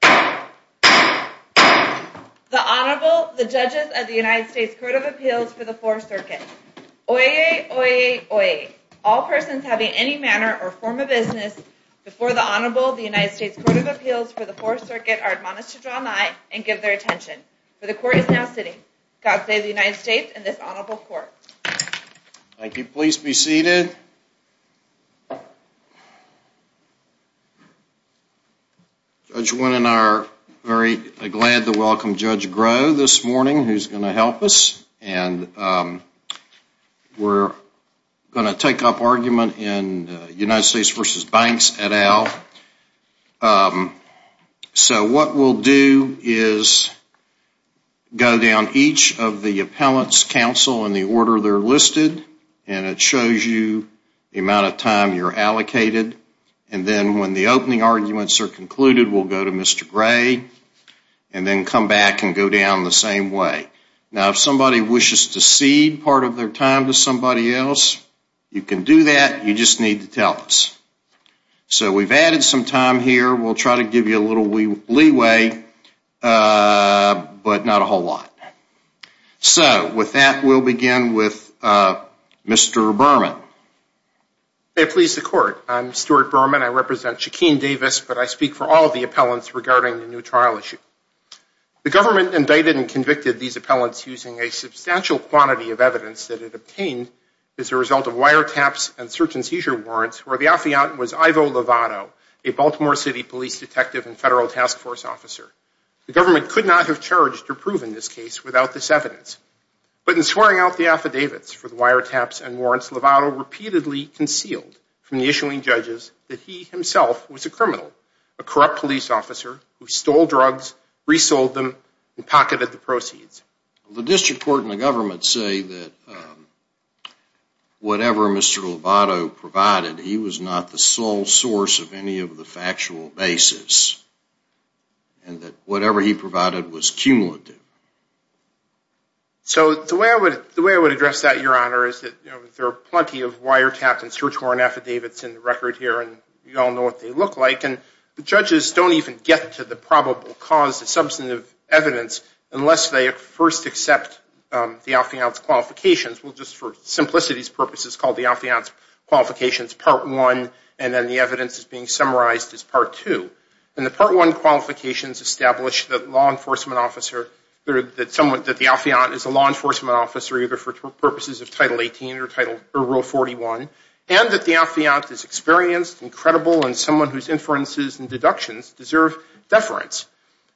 The Honorable, the Judges of the United States Court of Appeals for the Fourth Circuit. Oyez! Oyez! Oyez! All persons having any manner or form of business before the Honorable of the United States Court of Appeals for the Fourth Circuit are admonished to draw nigh and give their attention. For the Court is now sitting. God save the United States and this Honorable Court. Thank you. Please be seated. Judge Wynne and I are very glad to welcome Judge Groh this morning who is going to help us. And we're going to take up argument in United States v. Banks et al. So what we'll do is go down each of the appellant's counsel in the order they're listed and it shows you the amount of time you're allocated. And then when the opening arguments are concluded, we'll go to Mr. Gray and then come back and go down the same way. Now if somebody wishes to cede part of their time to somebody else, you can do that. You just need to tell us. So we've added some time here. We'll try to give you a little leeway, but not a whole lot. So with that, we'll begin with Mr. Berman. May it please the Court. I'm Stuart Berman. I represent Shakeen Davis, but I speak for all the appellants regarding the new trial issue. The government indicted and convicted these appellants using a substantial quantity of evidence that it obtained as a result of wiretaps and search and seizure warrants where the affiant was Ivo Lovato, a Baltimore City police detective and federal task force officer. The government could not have charged or proven this case without this evidence. But in swearing out the affidavits for the wiretaps and warrants, Lovato repeatedly concealed from the issuing judges that he himself was a criminal, a corrupt police officer who stole drugs, resold them, and pocketed the proceeds. The district court and the government say that whatever Mr. Lovato provided, he was not the sole source of any of the factual basis, and that whatever he provided was cumulative. So the way I would address that, Your Honor, is that there are plenty of wiretaps and search warrant affidavits in the record here, and we all know what they look like, and the judges don't even get to the probable cause, the substantive evidence, unless they first accept the affiant's qualifications. We'll just, for simplicity's purposes, call the affiant's qualifications Part 1, and then the evidence is being summarized as Part 2. And the Part 1 qualifications establish that the affiant is a law enforcement officer, either for purposes of Title 18 or Rule 41, and that the affiant is experienced and credible and someone whose inferences and deductions deserve deference.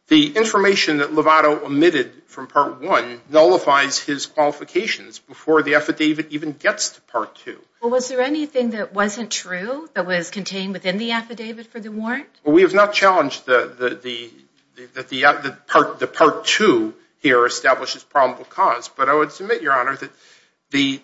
The information that Lovato omitted from Part 1 nullifies his qualifications before the affidavit even gets to Part 2. Well, was there anything that wasn't true that was contained within the affidavit for the warrant? Well, we have not challenged that the Part 2 here establishes probable cause, but I would submit, Your Honor, that the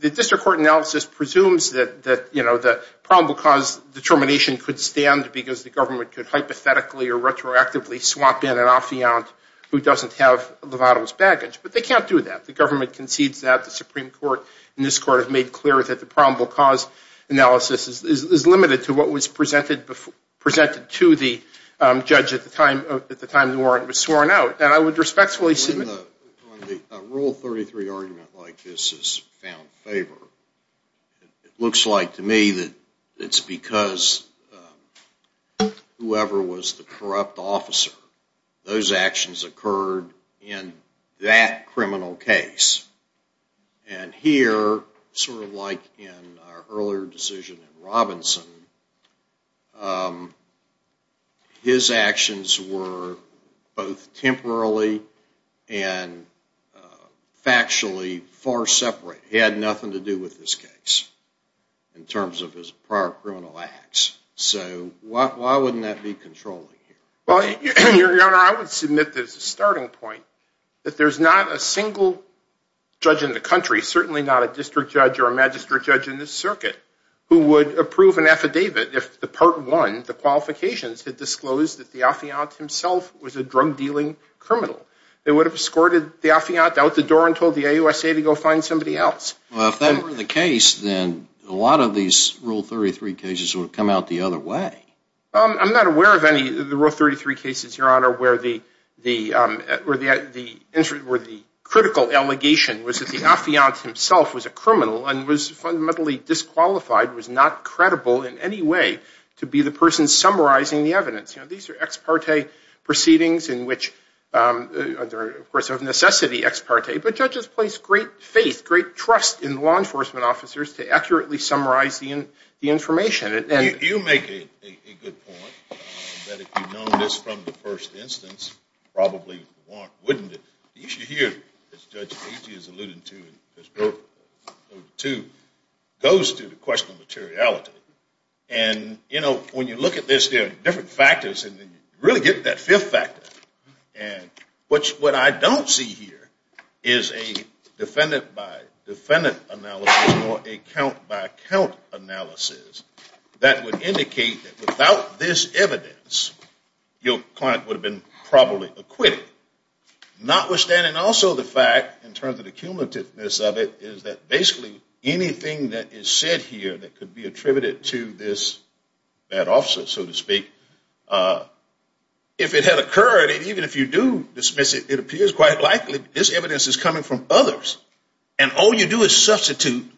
district court analysis presumes that, you know, the probable cause determination could stand because the government could hypothetically or retroactively swap in an affiant who doesn't have Lovato's baggage, but they can't do that. The government concedes that. The Supreme Court and this Court have made clear that the probable cause analysis is limited to what was presented to the judge at the time the warrant was sworn out. On the Rule 33 argument like this, it's found favor. It looks like to me that it's because whoever was the corrupt officer, those actions occurred in that criminal case. And here, sort of like in our earlier decision in Robinson, his actions were both temporarily and factually far separate. He had nothing to do with this case in terms of his prior criminal acts. So why wouldn't that be controlling here? Well, Your Honor, I would submit this as a starting point, that there's not a single judge in the country, certainly not a district judge or a magistrate judge in this circuit, who would approve an affidavit if the Part 1, the qualifications, had disclosed that the affiant himself was a drug-dealing criminal. They would have escorted the affiant out the door and told the AUSA to go find somebody else. Well, if that were the case, then a lot of these Rule 33 cases would have come out the other way. I'm not aware of any of the Rule 33 cases, Your Honor, where the critical allegation was that the affiant himself was a criminal and was fundamentally disqualified, was not credible in any way to be the person summarizing the evidence. You know, these are ex parte proceedings in which, of course, of necessity ex parte, but judges place great faith, great trust in law enforcement officers to accurately summarize the information. You make a good point that if you'd known this from the first instance, you probably wouldn't have. The issue here, as Judge Agee has alluded to, goes to the question of materiality. And, you know, when you look at this, there are different factors, and you really get that fifth factor. And what I don't see here is a defendant-by-defendant analysis or a count-by-count analysis that would indicate that without this evidence, your client would have been probably acquitted. Notwithstanding also the fact, in terms of the cumulativeness of it, is that basically anything that is said here that could be attributed to this if it had occurred, and even if you do dismiss it, it appears quite likely this evidence is coming from others. And all you do is substitute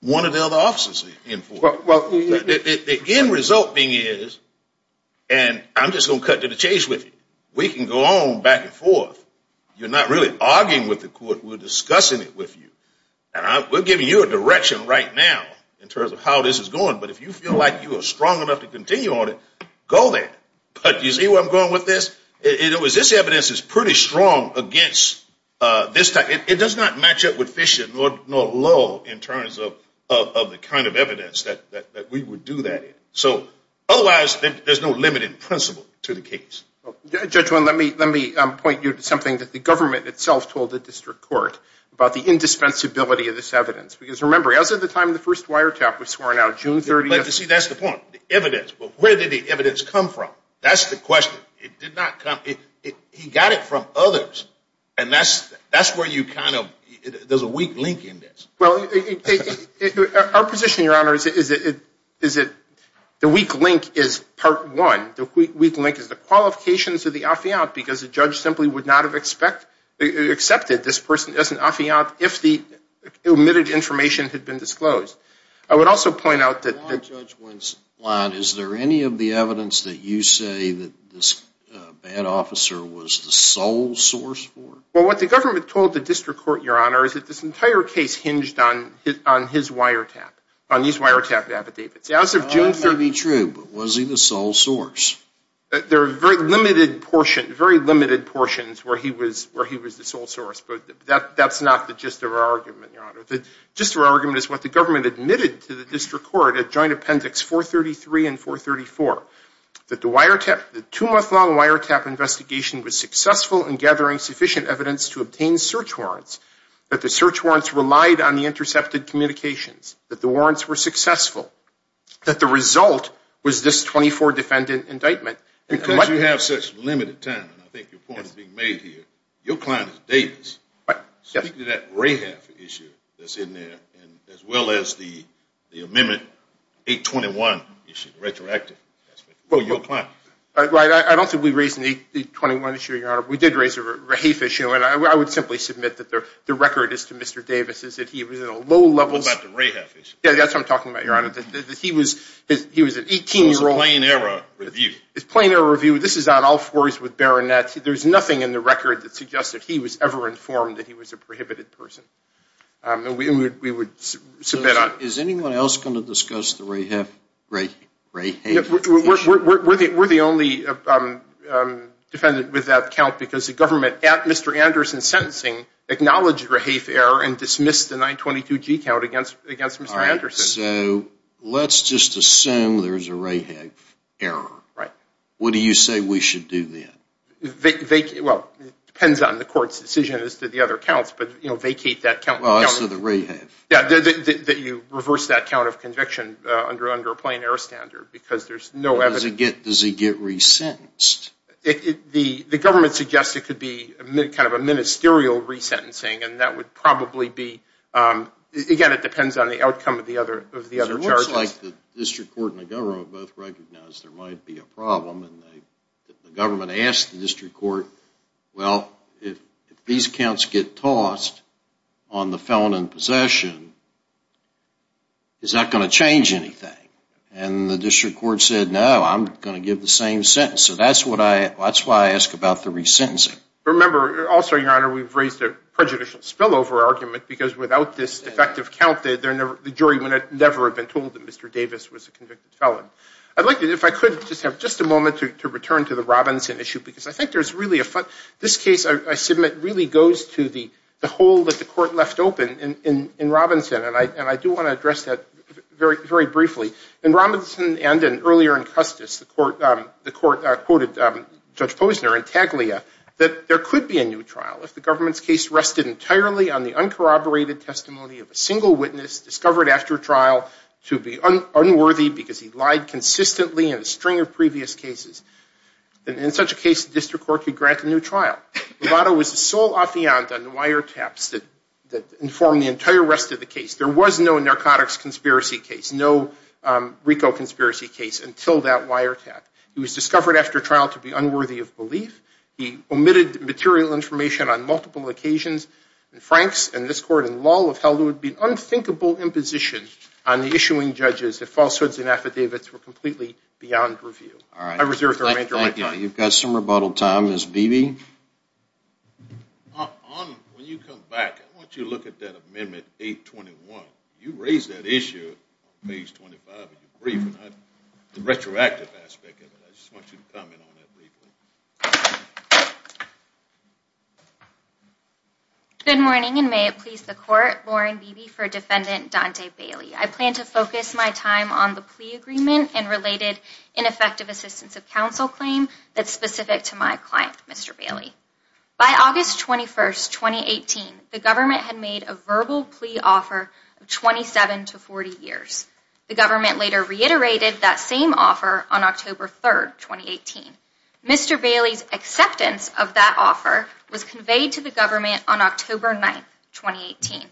one of the other officers in for it. The end result being is, and I'm just going to cut to the chase with you, we can go on back and forth. You're not really arguing with the court. We're discussing it with you. And we're giving you a direction right now in terms of how this is going. But if you feel like you are strong enough to continue on it, go there. But you see where I'm going with this? This evidence is pretty strong against this type. It does not match up with Fisher nor Lowell in terms of the kind of evidence that we would do that in. So otherwise, there's no limited principle to the case. Judge, let me point you to something that the government itself told the district court about the indispensability of this evidence. Because remember, as of the time the first wiretap was sworn out, June 30th. But you see, that's the point, the evidence. But where did the evidence come from? That's the question. It did not come – he got it from others. And that's where you kind of – there's a weak link in this. Well, our position, Your Honor, is that the weak link is part one. The weak link is the qualifications of the affiant because the judge simply would not have accepted this person as an affiant if the omitted information had been disclosed. I would also point out that – Your Honor, Judge Winslot, is there any of the evidence that you say that this bad officer was the sole source for? Well, what the government told the district court, Your Honor, is that this entire case hinged on his wiretap, on these wiretap affidavits. That may be true, but was he the sole source? There are very limited portions where he was the sole source. But that's not the gist of our argument, Your Honor. The gist of our argument is what the government admitted to the district court at Joint Appendix 433 and 434, that the two-month-long wiretap investigation was successful in gathering sufficient evidence to obtain search warrants, that the search warrants relied on the intercepted communications, that the warrants were successful, that the result was this 24-defendant indictment. Because you have such limited time, and I think your point is being made here, your client is Davis. Yes. Speak to that RAHEF issue that's in there, as well as the Amendment 821 issue, the retroactive. Well, I don't think we raised an 821 issue, Your Honor. We did raise a RAHEF issue, and I would simply submit that the record is to Mr. Davis is that he was in a low-level – What about the RAHEF issue? Yes, that's what I'm talking about, Your Honor, that he was an 18-year-old – It was a plain error review. It's a plain error review. This is on all fours with Baronet. There's nothing in the record that suggests that he was ever informed that he was a prohibited person. And we would submit – Is anyone else going to discuss the RAHEF issue? We're the only defendant with that count because the government, at Mr. Anderson's sentencing, acknowledged RAHEF error and dismissed the 922G count against Mr. Anderson. All right. So let's just assume there's a RAHEF error. Right. What do you say we should do then? Well, it depends on the court's decision as to the other counts, but vacate that count. Well, as to the RAHEF. Yeah, that you reverse that count of conviction under a plain error standard because there's no evidence – Does he get resentenced? The government suggests it could be kind of a ministerial resentencing, and that would probably be – Again, it depends on the outcome of the other charges. It looks like the district court and the government both recognized there might be a problem, and the government asked the district court, well, if these counts get tossed on the felon in possession, is that going to change anything? And the district court said, no, I'm going to give the same sentence. So that's why I ask about the resentencing. Remember, also, Your Honor, we've raised a prejudicial spillover argument because without this defective count, the jury would never have been told that Mr. Davis was a convicted felon. I'd like to, if I could, just have just a moment to return to the Robinson issue because I think there's really a – this case, I submit, really goes to the hole that the court left open in Robinson, and I do want to address that very briefly. In Robinson and earlier in Custis, the court quoted Judge Posner and Taglia that there could be a new trial if the government's case rested entirely on the uncorroborated testimony of a single witness discovered after trial to be unworthy because he lied consistently in a string of previous cases. In such a case, the district court could grant a new trial. Lovato was the sole affiant on the wiretaps that informed the entire rest of the case. There was no narcotics conspiracy case, no RICO conspiracy case until that wiretap. He was discovered after trial to be unworthy of belief. He omitted material information on multiple occasions. And Franks and this court in law would have held it would be an unthinkable imposition on the issuing judges if falsehoods and affidavits were completely beyond review. I reserve the remainder of my time. Thank you. You've got some rebuttal time. Ms. Beebe? When you come back, I want you to look at that Amendment 821. You raised that issue on page 25 of your brief, the retroactive aspect of it. I just want you to comment on that briefly. Good morning and may it please the court. Lauren Beebe for Defendant Dante Bailey. I plan to focus my time on the plea agreement and related ineffective assistance of counsel claim that's specific to my client, Mr. Bailey. By August 21st, 2018, the government had made a verbal plea offer of 27 to 40 years. The government later reiterated that same offer on October 3rd, 2018. Mr. Bailey's acceptance of that offer was conveyed to the government on October 9th, 2018.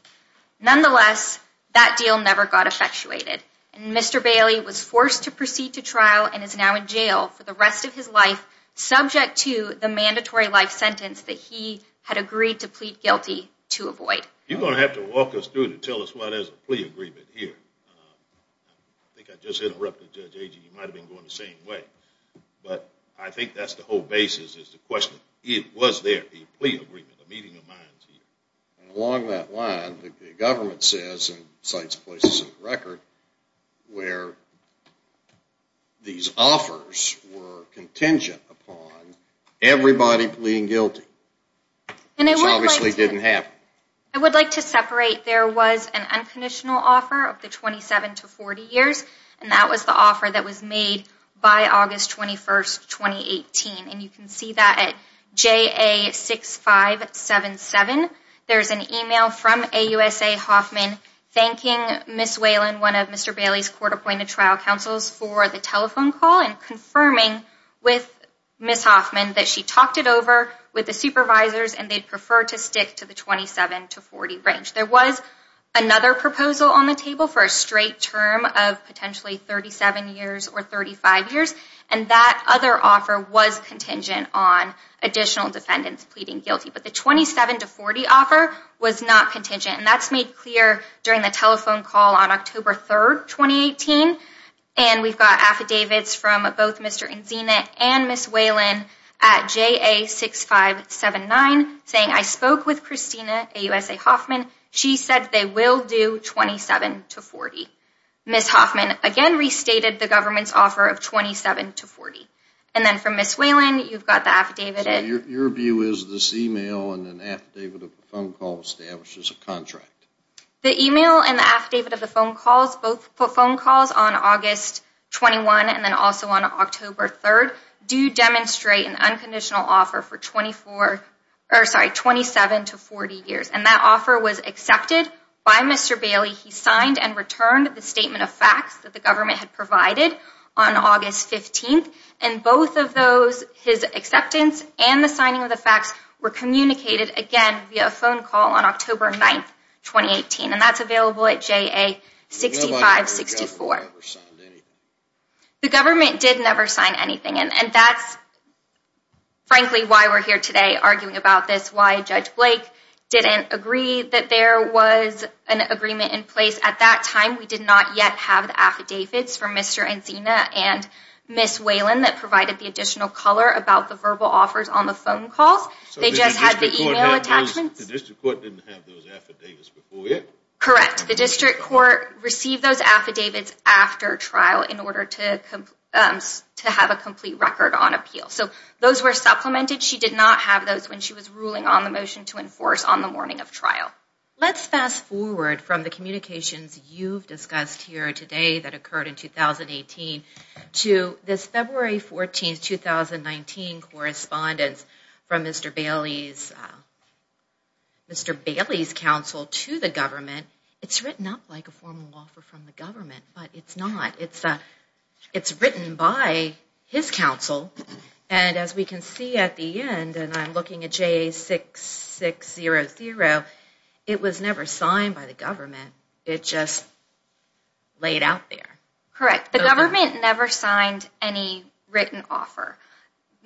Nonetheless, that deal never got effectuated. And Mr. Bailey was forced to proceed to trial and is now in jail for the rest of his life, subject to the mandatory life sentence that he had agreed to plead guilty to avoid. You're going to have to walk us through to tell us why there's a plea agreement here. I think I just interrupted Judge Agee. He might have been going the same way. But I think that's the whole basis is the question. Was there a plea agreement, a meeting of minds here? Along that line, the government says, and cites places on the record, where these offers were contingent upon everybody pleading guilty. Which obviously didn't happen. I would like to separate. There was an unconditional offer of the 27 to 40 years. And that was the offer that was made by August 21st, 2018. And you can see that at JA6577. There's an email from AUSA Hoffman thanking Ms. Whalen, one of Mr. Bailey's court-appointed trial counsels, for the telephone call and confirming with Ms. Hoffman that she talked it over with the supervisors and they'd prefer to stick to the 27 to 40 range. There was another proposal on the table for a straight term of potentially 37 years or 35 years. And that other offer was contingent on additional defendants pleading guilty. But the 27 to 40 offer was not contingent. And that's made clear during the telephone call on October 3rd, 2018. And we've got affidavits from both Mr. Enzina and Ms. Whalen at JA6579 saying, I spoke with Christina AUSA Hoffman. She said they will do 27 to 40. Ms. Hoffman again restated the government's offer of 27 to 40. And then from Ms. Whalen, you've got the affidavit. So your view is this email and an affidavit of the phone call establishes a contract? The email and the affidavit of the phone calls, both phone calls on August 21 and then also on October 3rd, do demonstrate an unconditional offer for 27 to 40 years. And that offer was accepted by Mr. Bailey. He signed and returned the statement of facts that the government had provided on August 15th. And both of those, his acceptance and the signing of the facts, were communicated again via a phone call on October 9th, 2018. And that's available at JA6564. The government did never sign anything. And that's frankly why we're here today arguing about this, why Judge Blake didn't agree that there was an agreement in place at that time. We did not yet have the affidavits from Mr. Encina and Ms. Whalen that provided the additional color about the verbal offers on the phone calls. They just had the email attachments. The district court didn't have those affidavits before yet? Correct. The district court received those affidavits after trial in order to have a complete record on appeal. So those were supplemented. And she did not have those when she was ruling on the motion to enforce on the morning of trial. Let's fast forward from the communications you've discussed here today that occurred in 2018 to this February 14th, 2019 correspondence from Mr. Bailey's counsel to the government. It's written up like a formal offer from the government, but it's not. It's written by his counsel. And as we can see at the end, and I'm looking at J6600, it was never signed by the government. It just laid out there. Correct. The government never signed any written offer.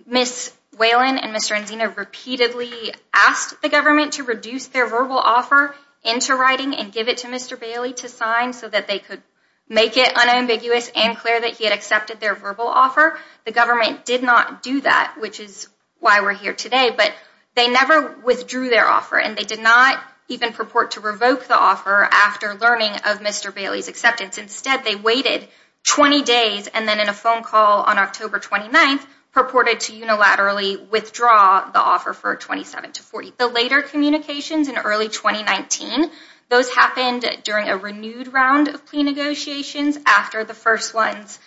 Ms. Whalen and Mr. Encina repeatedly asked the government to reduce their verbal offer into writing and give it to Mr. Bailey to sign so that they could make it unambiguous and clear that he had accepted their verbal offer. The government did not do that, which is why we're here today. But they never withdrew their offer, and they did not even purport to revoke the offer after learning of Mr. Bailey's acceptance. Instead, they waited 20 days, and then in a phone call on October 29th, purported to unilaterally withdraw the offer for 27 to 40. The later communications in early 2019, those happened during a renewed round of plea negotiations after the first ones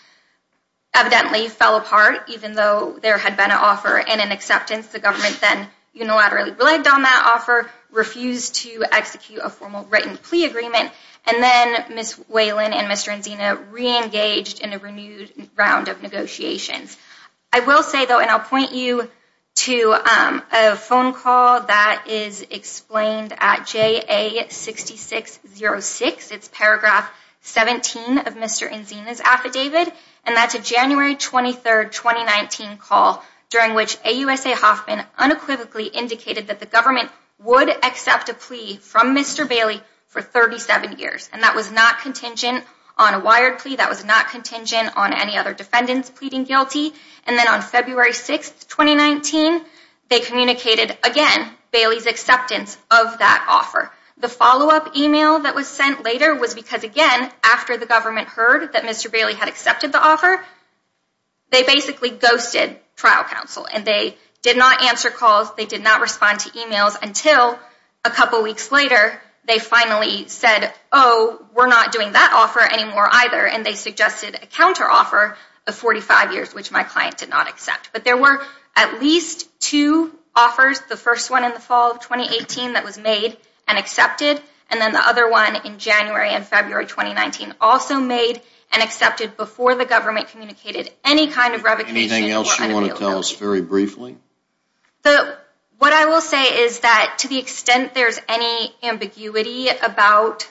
evidently fell apart, even though there had been an offer and an acceptance. The government then unilaterally bled on that offer, refused to execute a formal written plea agreement, and then Ms. Whalen and Mr. Encina reengaged in a renewed round of negotiations. I will say, though, and I'll point you to a phone call that is explained at JA6606. It's paragraph 17 of Mr. Encina's affidavit, and that's a January 23rd, 2019 call during which AUSA Hoffman unequivocally indicated that the government would accept a plea from Mr. Bailey for 37 years. And that was not contingent on a wired plea. That was not contingent on any other defendants pleading guilty. And then on February 6th, 2019, they communicated, again, Bailey's acceptance of that offer. The follow-up email that was sent later was because, again, after the government heard that Mr. Bailey had accepted the offer, they basically ghosted trial counsel, and they did not answer calls, they did not respond to emails until a couple weeks later they finally said, oh, we're not doing that offer anymore either, and they suggested a counteroffer of 45 years, which my client did not accept. But there were at least two offers, the first one in the fall of 2018 that was made and accepted, and then the other one in January and February 2019 also made and accepted before the government communicated any kind of revocation or unavailability. Anything else you want to tell us very briefly? What I will say is that to the extent there's any ambiguity about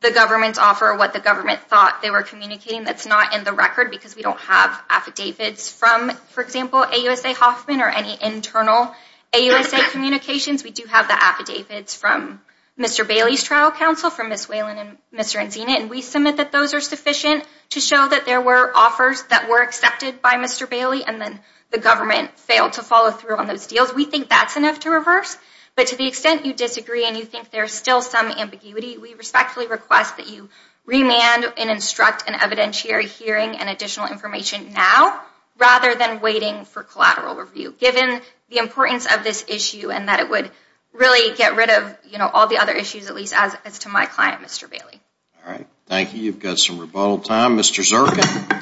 the government's offer or what the government thought they were communicating that's not in the record because we don't have affidavits from, for example, AUSA Hoffman or any internal AUSA communications. We do have the affidavits from Mr. Bailey's trial counsel, from Ms. Whalen and Mr. Enzina, and we submit that those are sufficient to show that there were offers that were accepted by Mr. Bailey and then the government failed to follow through on those deals. We think that's enough to reverse. But to the extent you disagree and you think there's still some ambiguity, we respectfully request that you remand and instruct an evidentiary hearing and additional information now rather than waiting for collateral review, given the importance of this issue and that it would really get rid of all the other issues, at least as to my client, Mr. Bailey. All right. Thank you. You've got some rebuttal time. Mr. Zirkin?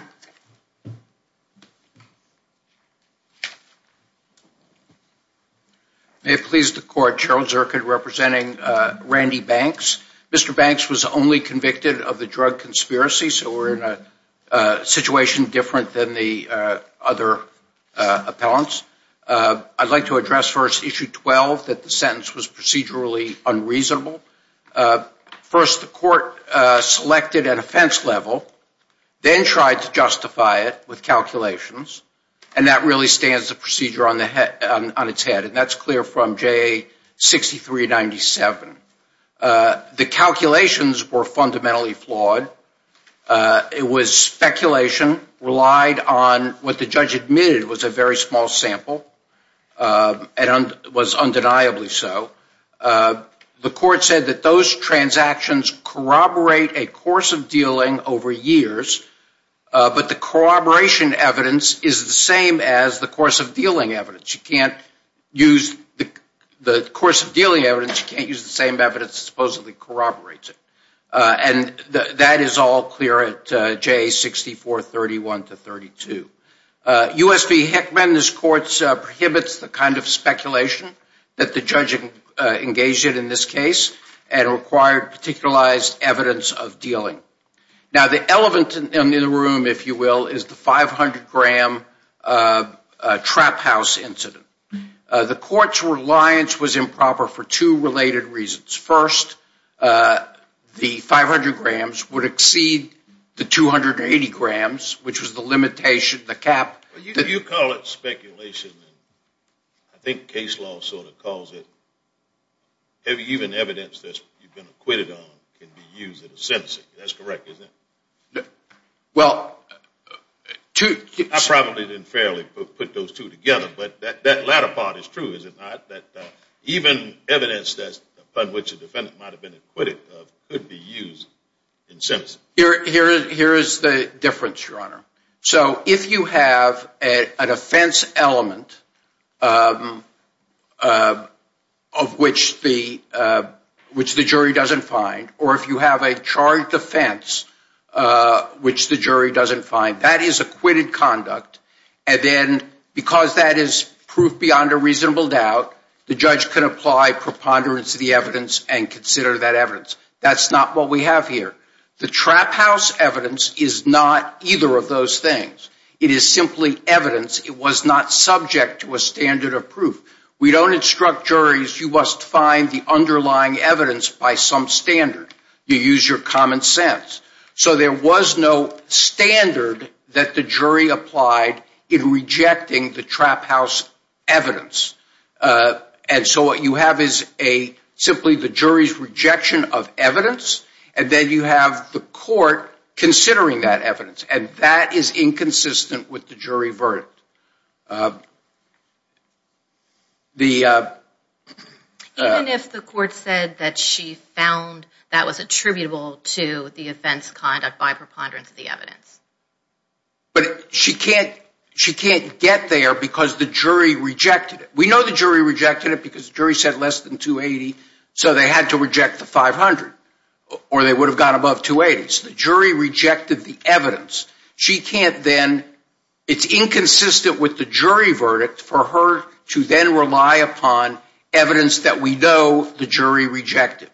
May it please the court, Cheryl Zirkin representing Randy Banks. Mr. Banks was only convicted of the drug conspiracy, so we're in a situation different than the other appellants. I'd like to address first Issue 12, that the sentence was procedurally unreasonable. First, the court selected at offense level the insurance company, and then tried to justify it with calculations. And that really stands the procedure on its head. And that's clear from JA 6397. The calculations were fundamentally flawed. It was speculation relied on what the judge admitted was a very small sample and was undeniably so. The court said that those transactions corroborate a course of dealing over years, but the corroboration evidence is the same as the course of dealing evidence. You can't use the course of dealing evidence. You can't use the same evidence that supposedly corroborates it. And that is all clear at JA 6431-32. U.S. v. Heckman, this court prohibits the kind of speculation that the judge engaged in in this case and required particularized evidence of dealing. Now, the element in the room, if you will, is the 500-gram trap house incident. The court's reliance was improper for two related reasons. First, the 500 grams would exceed the 280 grams, which was the limitation, the cap. You call it speculation. I think case law sort of calls it. Even evidence that you've been acquitted on can be used in a sentencing. That's correct, isn't it? Well, two – I probably didn't fairly put those two together, but that latter part is true, is it not? That even evidence upon which a defendant might have been acquitted could be used in sentencing. Here is the difference, Your Honor. So if you have an offense element of which the jury doesn't find, or if you have a charged offense which the jury doesn't find, that is acquitted conduct. And then because that is proof beyond a reasonable doubt, the judge can apply preponderance of the evidence and consider that evidence. That's not what we have here. The trap house evidence is not either of those things. It is simply evidence. It was not subject to a standard of proof. We don't instruct juries, you must find the underlying evidence by some standard. You use your common sense. So there was no standard that the jury applied in rejecting the trap house evidence. And so what you have is simply the jury's rejection of evidence, and then you have the court considering that evidence. And that is inconsistent with the jury verdict. Even if the court said that she found that was attributable to the offense conduct by preponderance of the evidence? But she can't get there because the jury rejected it. We know the jury rejected it because the jury said less than 280, so they had to reject the 500, or they would have gone above 280. So the jury rejected the evidence. She can't then, it's inconsistent with the jury verdict for her to then rely upon evidence that we know the jury rejected.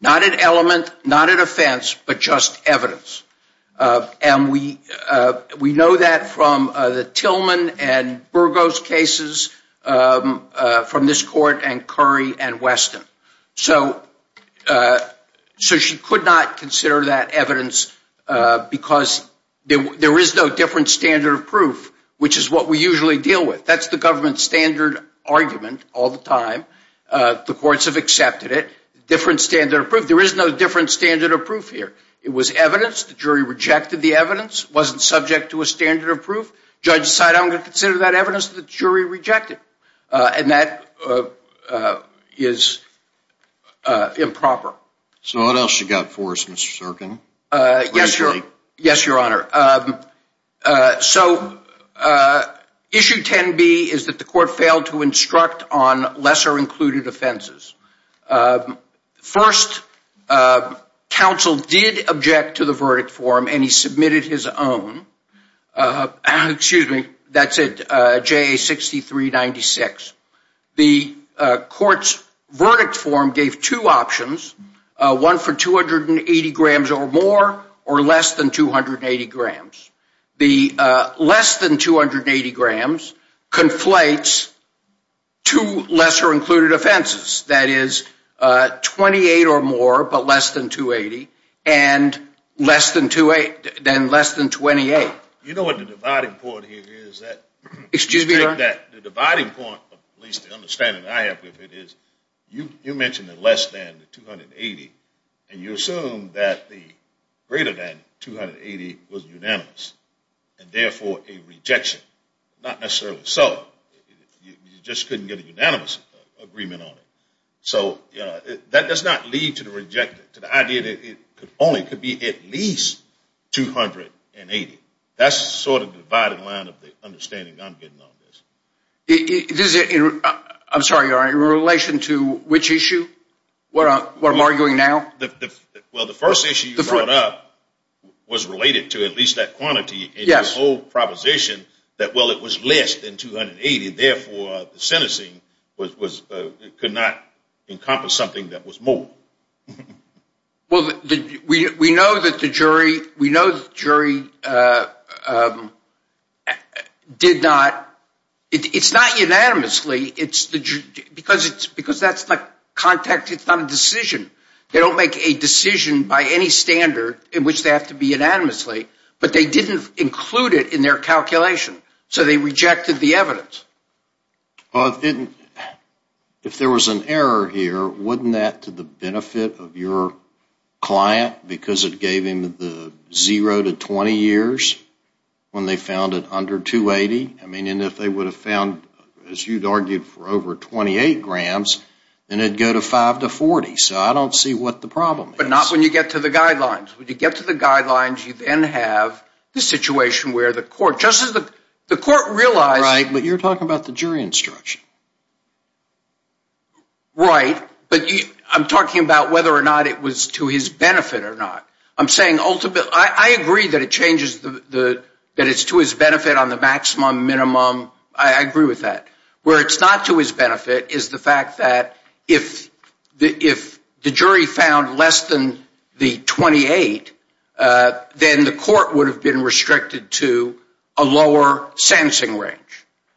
Not an element, not an offense, but just evidence. And we know that from the Tillman and Burgos cases from this court and Curry and Weston. So she could not consider that evidence because there is no different standard of proof, which is what we usually deal with. That's the government standard argument all the time. The courts have accepted it. Different standard of proof. There is no different standard of proof here. It was evidence. The jury rejected the evidence. It wasn't subject to a standard of proof. The judge decided, I'm going to consider that evidence. The jury rejected it. And that is improper. So what else you got for us, Mr. Serkin? Yes, Your Honor. So issue 10B is that the court failed to instruct on lesser included offenses. First, counsel did object to the verdict for him, and he submitted his own. Excuse me. That's it. JA 6396. The court's verdict form gave two options, one for 280 grams or more or less than 280 grams. The less than 280 grams conflates two lesser included offenses. That is, 28 or more, but less than 280, and less than 28. You know what the dividing point here is? Excuse me, Your Honor. The dividing point, at least the understanding I have of it, is you mentioned the less than, the 280, and you assumed that the greater than 280 was unanimous, and therefore a rejection. Not necessarily so. You just couldn't get a unanimous agreement on it. So that does not lead to the idea that it only could be at least 280. That's sort of the dividing line of the understanding I'm getting on this. I'm sorry, Your Honor. In relation to which issue, what I'm arguing now? Well, the first issue you brought up was related to at least that quantity. Yes. That whole proposition that, well, it was less than 280, therefore the sentencing could not encompass something that was more. Well, we know that the jury did not. It's not unanimously. Because that's like contact-to-thumb decision. They don't make a decision by any standard in which they have to be unanimously, but they didn't include it in their calculation. So they rejected the evidence. Well, if there was an error here, wouldn't that to the benefit of your client because it gave him the zero to 20 years when they found it under 280? I mean, and if they would have found, as you'd argued, for over 28 grams, then it would go to 5 to 40. So I don't see what the problem is. But not when you get to the guidelines. When you get to the guidelines, you then have the situation where the court, just as the court realized. Right, but you're talking about the jury instruction. Right. But I'm talking about whether or not it was to his benefit or not. I'm saying ultimately. I agree that it's to his benefit on the maximum, minimum. I agree with that. Where it's not to his benefit is the fact that if the jury found less than the 28, then the court would have been restricted to a lower sensing range.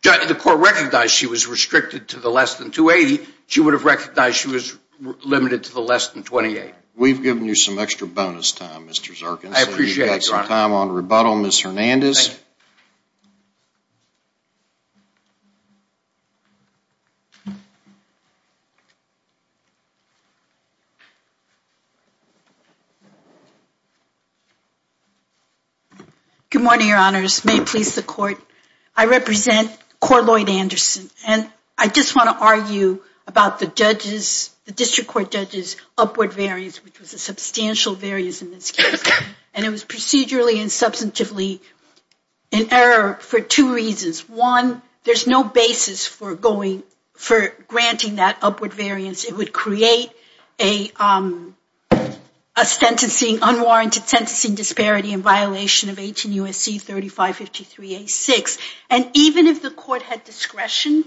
The court recognized she was restricted to the less than 280. She would have recognized she was limited to the less than 28. We've given you some extra bonus time, Mr. Zarkin. I appreciate it, Your Honor. We have time on rebuttal. Ms. Hernandez. Good morning, Your Honors. May it please the court. I represent Cor Lloyd Anderson. And I just want to argue about the district court judge's upward variance, which was a substantial variance in this case. And it was procedurally and substantively in error for two reasons. One, there's no basis for granting that upward variance. It would create a unwarranted sentencing disparity in violation of 18 USC 3553A6. And even if the court had discretion,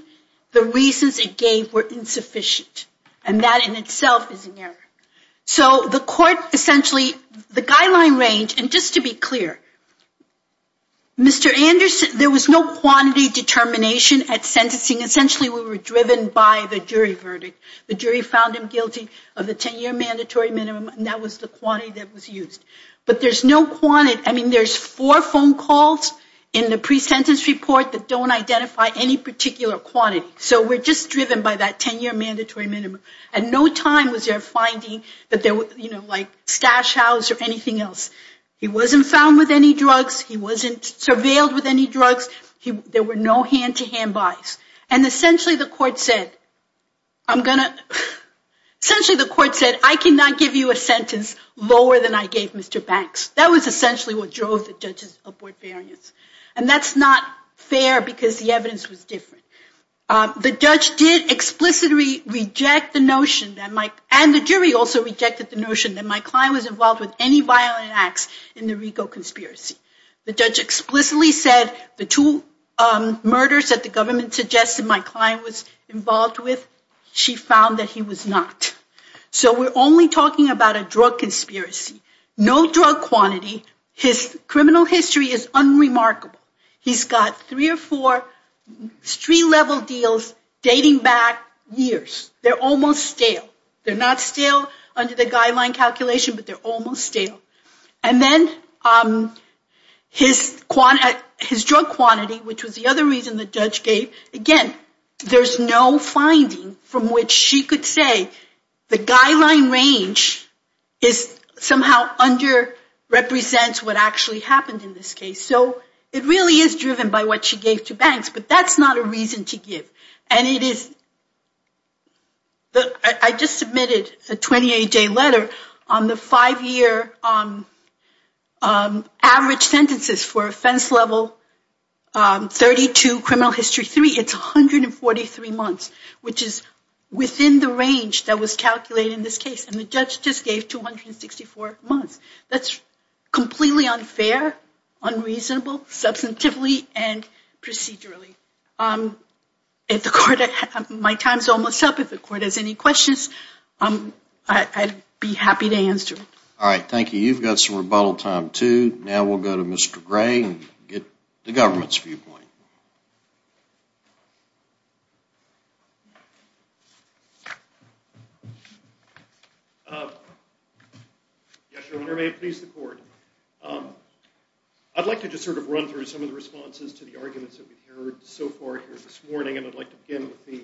the reasons it gave were insufficient. And that in itself is an error. So the court essentially, the guideline range, and just to be clear, Mr. Anderson, there was no quantity determination at sentencing. Essentially, we were driven by the jury verdict. The jury found him guilty of the 10-year mandatory minimum, and that was the quantity that was used. But there's no quantity. I mean, there's four phone calls in the pre-sentence report that don't identify any particular quantity. So we're just driven by that 10-year mandatory minimum. And no time was there finding that there was, you know, like stash house or anything else. He wasn't found with any drugs. He wasn't surveilled with any drugs. There were no hand-to-hand buys. And essentially, the court said, I'm going to – essentially, the court said, I cannot give you a sentence lower than I gave Mr. Banks. That was essentially what drove the judge's upward variance. And that's not fair because the evidence was different. The judge did explicitly reject the notion that my – and the jury also rejected the notion that my client was involved with any violent acts in the RICO conspiracy. The judge explicitly said the two murders that the government suggested my client was involved with, she found that he was not. So we're only talking about a drug conspiracy. No drug quantity. His criminal history is unremarkable. He's got three or four street-level deals dating back years. They're almost stale. They're not stale under the guideline calculation, but they're almost stale. And then his drug quantity, which was the other reason the judge gave, again, there's no finding from which she could say the guideline range is somehow under-represents what actually happened in this case. So it really is driven by what she gave to Banks, but that's not a reason to give. And it is – I just submitted a 28-day letter on the five-year average sentences for offense level 32, criminal history 3. It's 143 months, which is within the range that was calculated in this case. And the judge just gave 264 months. That's completely unfair, unreasonable, substantively and procedurally. My time's almost up. If the court has any questions, I'd be happy to answer. All right, thank you. You've got some rebuttal time, too. Now we'll go to Mr. Gray and get the government's viewpoint. Yes, Your Honor, may it please the court. I'd like to just sort of run through some of the responses to the arguments that we've heard so far here this morning, and I'd like to begin with the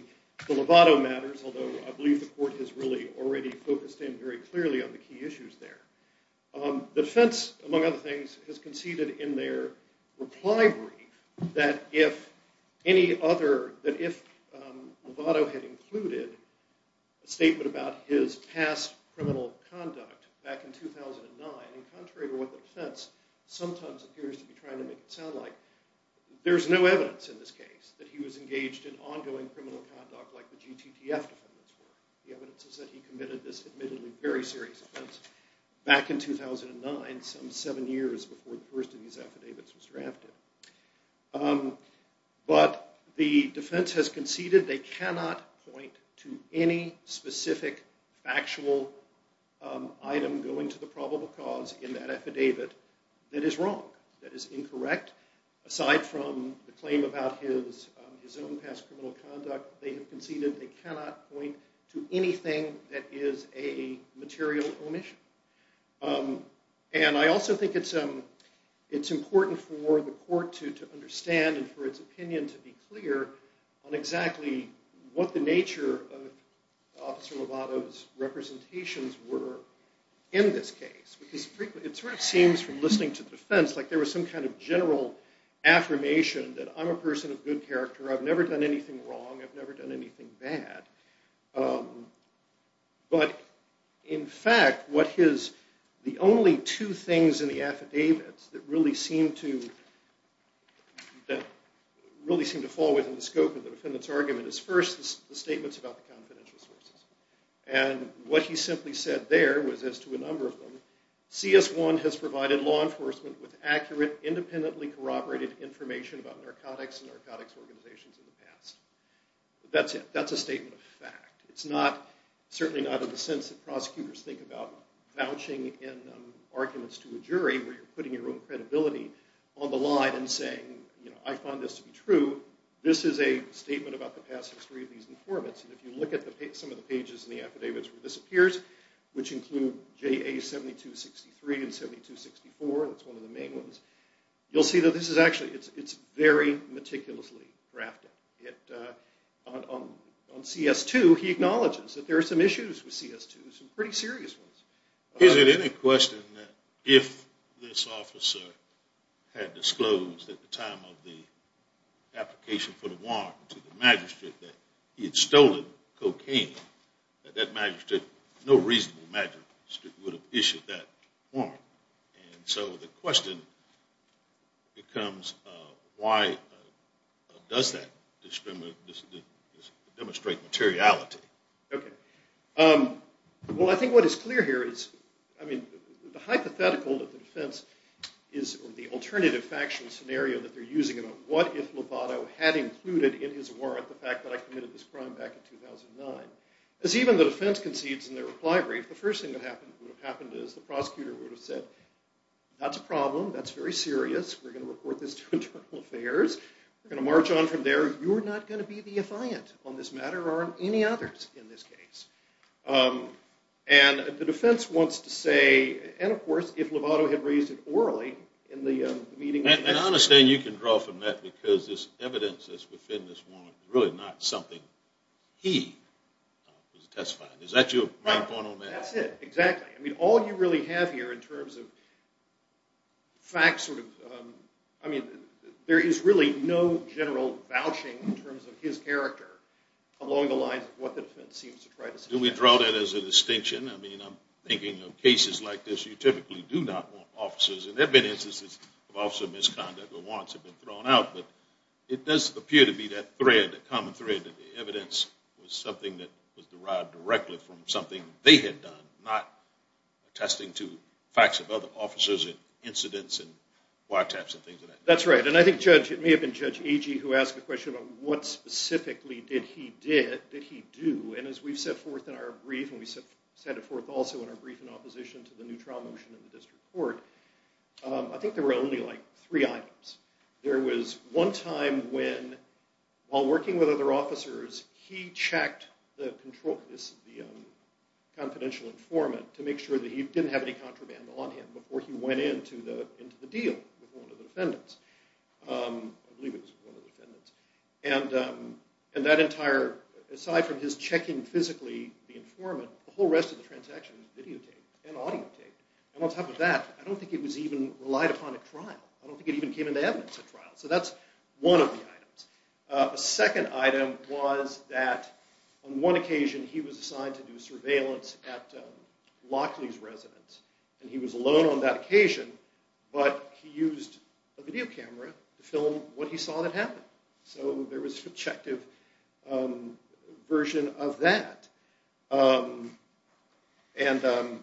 Lovato matters, although I believe the court has really already focused in very clearly on the key issues there. The defense, among other things, has conceded in their reply brief that if Lovato had included a statement about his past criminal conduct back in 2009, contrary to what the defense sometimes appears to be trying to make it sound like, there's no evidence in this case that he was engaged in ongoing criminal conduct like the GTTF defendants were. The evidence is that he committed this admittedly very serious offense back in 2009, some seven years before the first of these affidavits was drafted. But the defense has conceded they cannot point to any specific factual item going to the probable cause in that affidavit that is wrong, that is incorrect. Aside from the claim about his own past criminal conduct, they have conceded they cannot point to anything that is a material omission. And I also think it's important for the court to understand and for its opinion to be clear on exactly what the nature of Officer Lovato's representations were in this case. It sort of seems from listening to the defense like there was some kind of general affirmation that I'm a person of good character, I've never done anything wrong, I've never done anything bad. But in fact, the only two things in the affidavits that really seem to fall within the scope of the defendant's argument is first the statements about the confidential sources. And what he simply said there was as to a number of them, CS1 has provided law enforcement with accurate independently corroborated information about narcotics and narcotics organizations in the past. That's it. That's a statement of fact. It's certainly not in the sense that prosecutors think about vouching in arguments to a jury where you're putting your own credibility on the line and saying, you know, I find this to be true. This is a statement about the past history of these informants. And if you look at some of the pages in the affidavits where this appears, which include JA7263 and 7264, that's one of the main ones, you'll see that this is actually, it's very meticulously drafted. On CS2, he acknowledges that there are some issues with CS2, some pretty serious ones. Is it any question that if this officer had disclosed at the time of the application for the warrant to the magistrate that he had stolen cocaine, that that magistrate, no reasonable magistrate, would have issued that warrant? And so the question becomes, why does that demonstrate materiality? Okay. Well, I think what is clear here is, I mean, the hypothetical that the defense is, or the alternative factual scenario that they're using about what if Lovato had included in his warrant the fact that I committed this crime back in 2009. As even the defense concedes in their reply brief, the first thing that would have happened is the prosecutor would have said, that's a problem, that's very serious, we're going to report this to Internal Affairs, we're going to march on from there, you're not going to be the affiant on this matter or on any others in this case. And the defense wants to say, and of course, if Lovato had raised it orally in the meeting... And I understand you can draw from that because this evidence that's within this warrant is really not something he was testifying. Is that your point on that? That's it, exactly. I mean, all you really have here in terms of facts, I mean, there is really no general vouching in terms of his character along the lines of what the defense seems to try to say. Do we draw that as a distinction? I mean, I'm thinking of cases like this, you typically do not want officers, and there have been instances of officer misconduct where warrants have been thrown out, but it does appear to be that thread, a common thread, that the evidence was something that was derived directly from something they had done, not attesting to facts of other officers and incidents and wiretaps and things of that nature. That's right, and I think, Judge, it may have been Judge Agee who asked the question about what specifically did he do, and as we've set forth in our brief, and we set it forth also in our brief in opposition to the new trial motion in the District Court, I think there were only like three items. There was one time when, while working with other officers, he checked the confidential informant to make sure that he didn't have any contraband on him before he went into the deal with one of the defendants. I believe it was one of the defendants. And that entire, aside from his checking physically the informant, the whole rest of the transaction was videotaped and audiotaped. And on top of that, I don't think it was even relied upon at trial. I don't think it even came into evidence at trial. So that's one of the items. A second item was that on one occasion he was assigned to do surveillance at Lockley's residence, and he was alone on that occasion, but he used a video camera to film what he saw that happened. So there was a subjective version of that. And I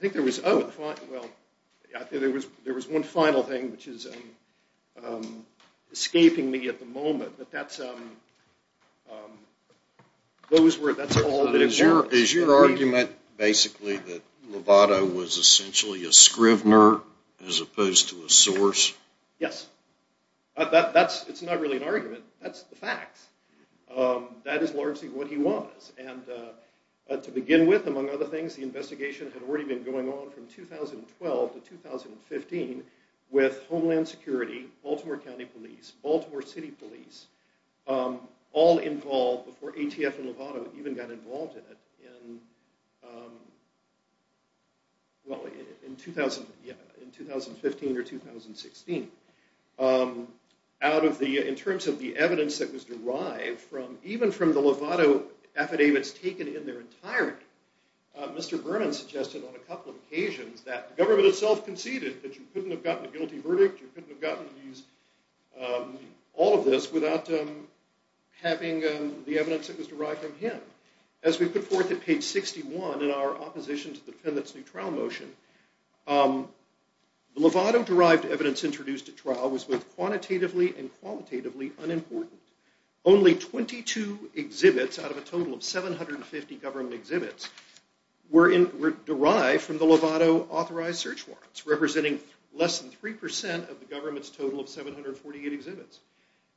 think there was one final thing, which is escaping me at the moment, but that's all that it was. Is your argument basically that Lovato was essentially a scrivener as opposed to a source? Yes. It's not really an argument. That's the facts. That is largely what he was. And to begin with, among other things, the investigation had already been going on from 2012 to 2015 with Homeland Security, Baltimore County Police, Baltimore City Police, all involved before ATF and Lovato even got involved in it in 2015 or 2016. In terms of the evidence that was derived from, even from the Lovato affidavits taken in their entirety, Mr. Berman suggested on a couple of occasions that the government itself conceded that you couldn't have gotten a guilty verdict, you couldn't have gotten all of this without having the evidence that was derived from him. As we put forth at page 61 in our opposition to the defendant's new trial motion, the Lovato-derived evidence introduced at trial was both quantitatively and qualitatively unimportant. Only 22 exhibits out of a total of 750 government exhibits were derived from the Lovato authorized search warrants, representing less than 3% of the government's total of 748 exhibits.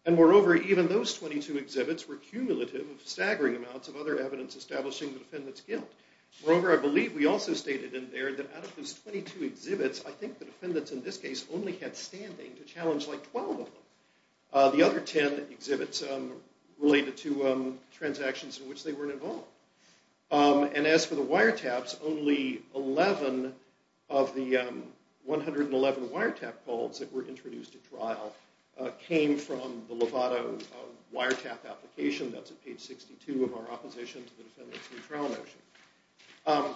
And moreover, even those 22 exhibits were cumulative of staggering amounts of other evidence establishing the defendant's guilt. Moreover, I believe we also stated in there that out of those 22 exhibits, I think the defendants in this case only had standing to challenge like 12 of them. The other 10 exhibits related to transactions in which they weren't involved. And as for the wiretaps, only 11 of the 111 wiretap calls that were introduced at trial came from the Lovato wiretap application. That's at page 62 of our opposition to the defendant's new trial motion.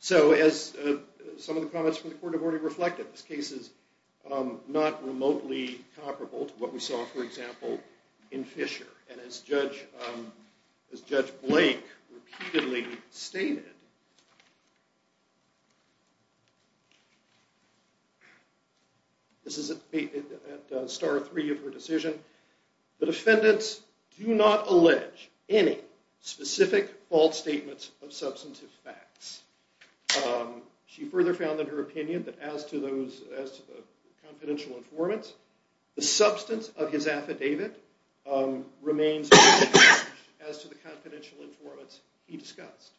So as some of the comments from the court have already reflected, this case is not remotely comparable to what we saw, for example, in Fisher. And as Judge Blake repeatedly stated, this is at star three of her decision, the defendants do not allege any specific false statements of substantive facts. She further found in her opinion that as to the confidential informants, the substance of his affidavit remains as to the confidential informants he discussed.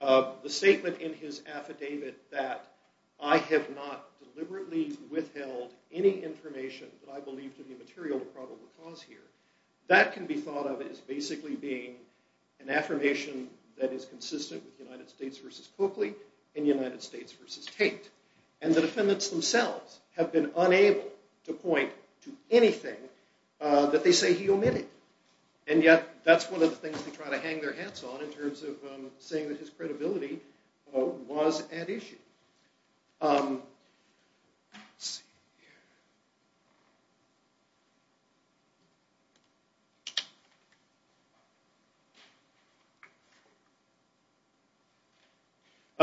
The statement in his affidavit that I have not deliberately withheld any information that I believe to be material to probable cause here, that can be thought of as basically being an affirmation that is consistent with United States v. Coakley and United States v. Tate. And the defendants themselves have been unable to point to anything that they say he omitted. And yet that's one of the things they try to hang their hats on in terms of saying that his credibility was at issue. Let's see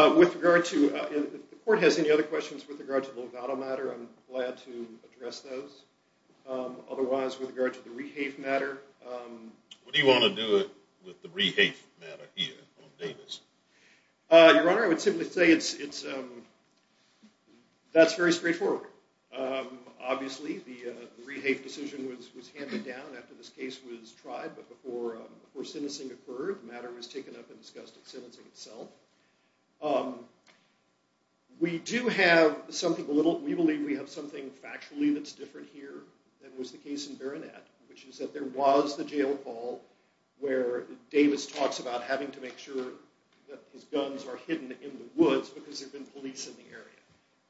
here. With regard to the court has any other questions with regard to the Lovato matter, I'm glad to address those. Otherwise, with regard to the Rehafe matter. What do you want to do with the Rehafe matter here on Davis? Your Honor, I would simply say that's very straightforward. Obviously, the Rehafe decision was handed down after this case was tried, but before sentencing occurred, the matter was taken up and discussed at sentencing itself. We do have something a little, we believe we have something factually that's different here than was the case in Berenat, which is that there was the jail call where Davis talks about having to make sure that his guns are hidden in the woods because there have been police in the area.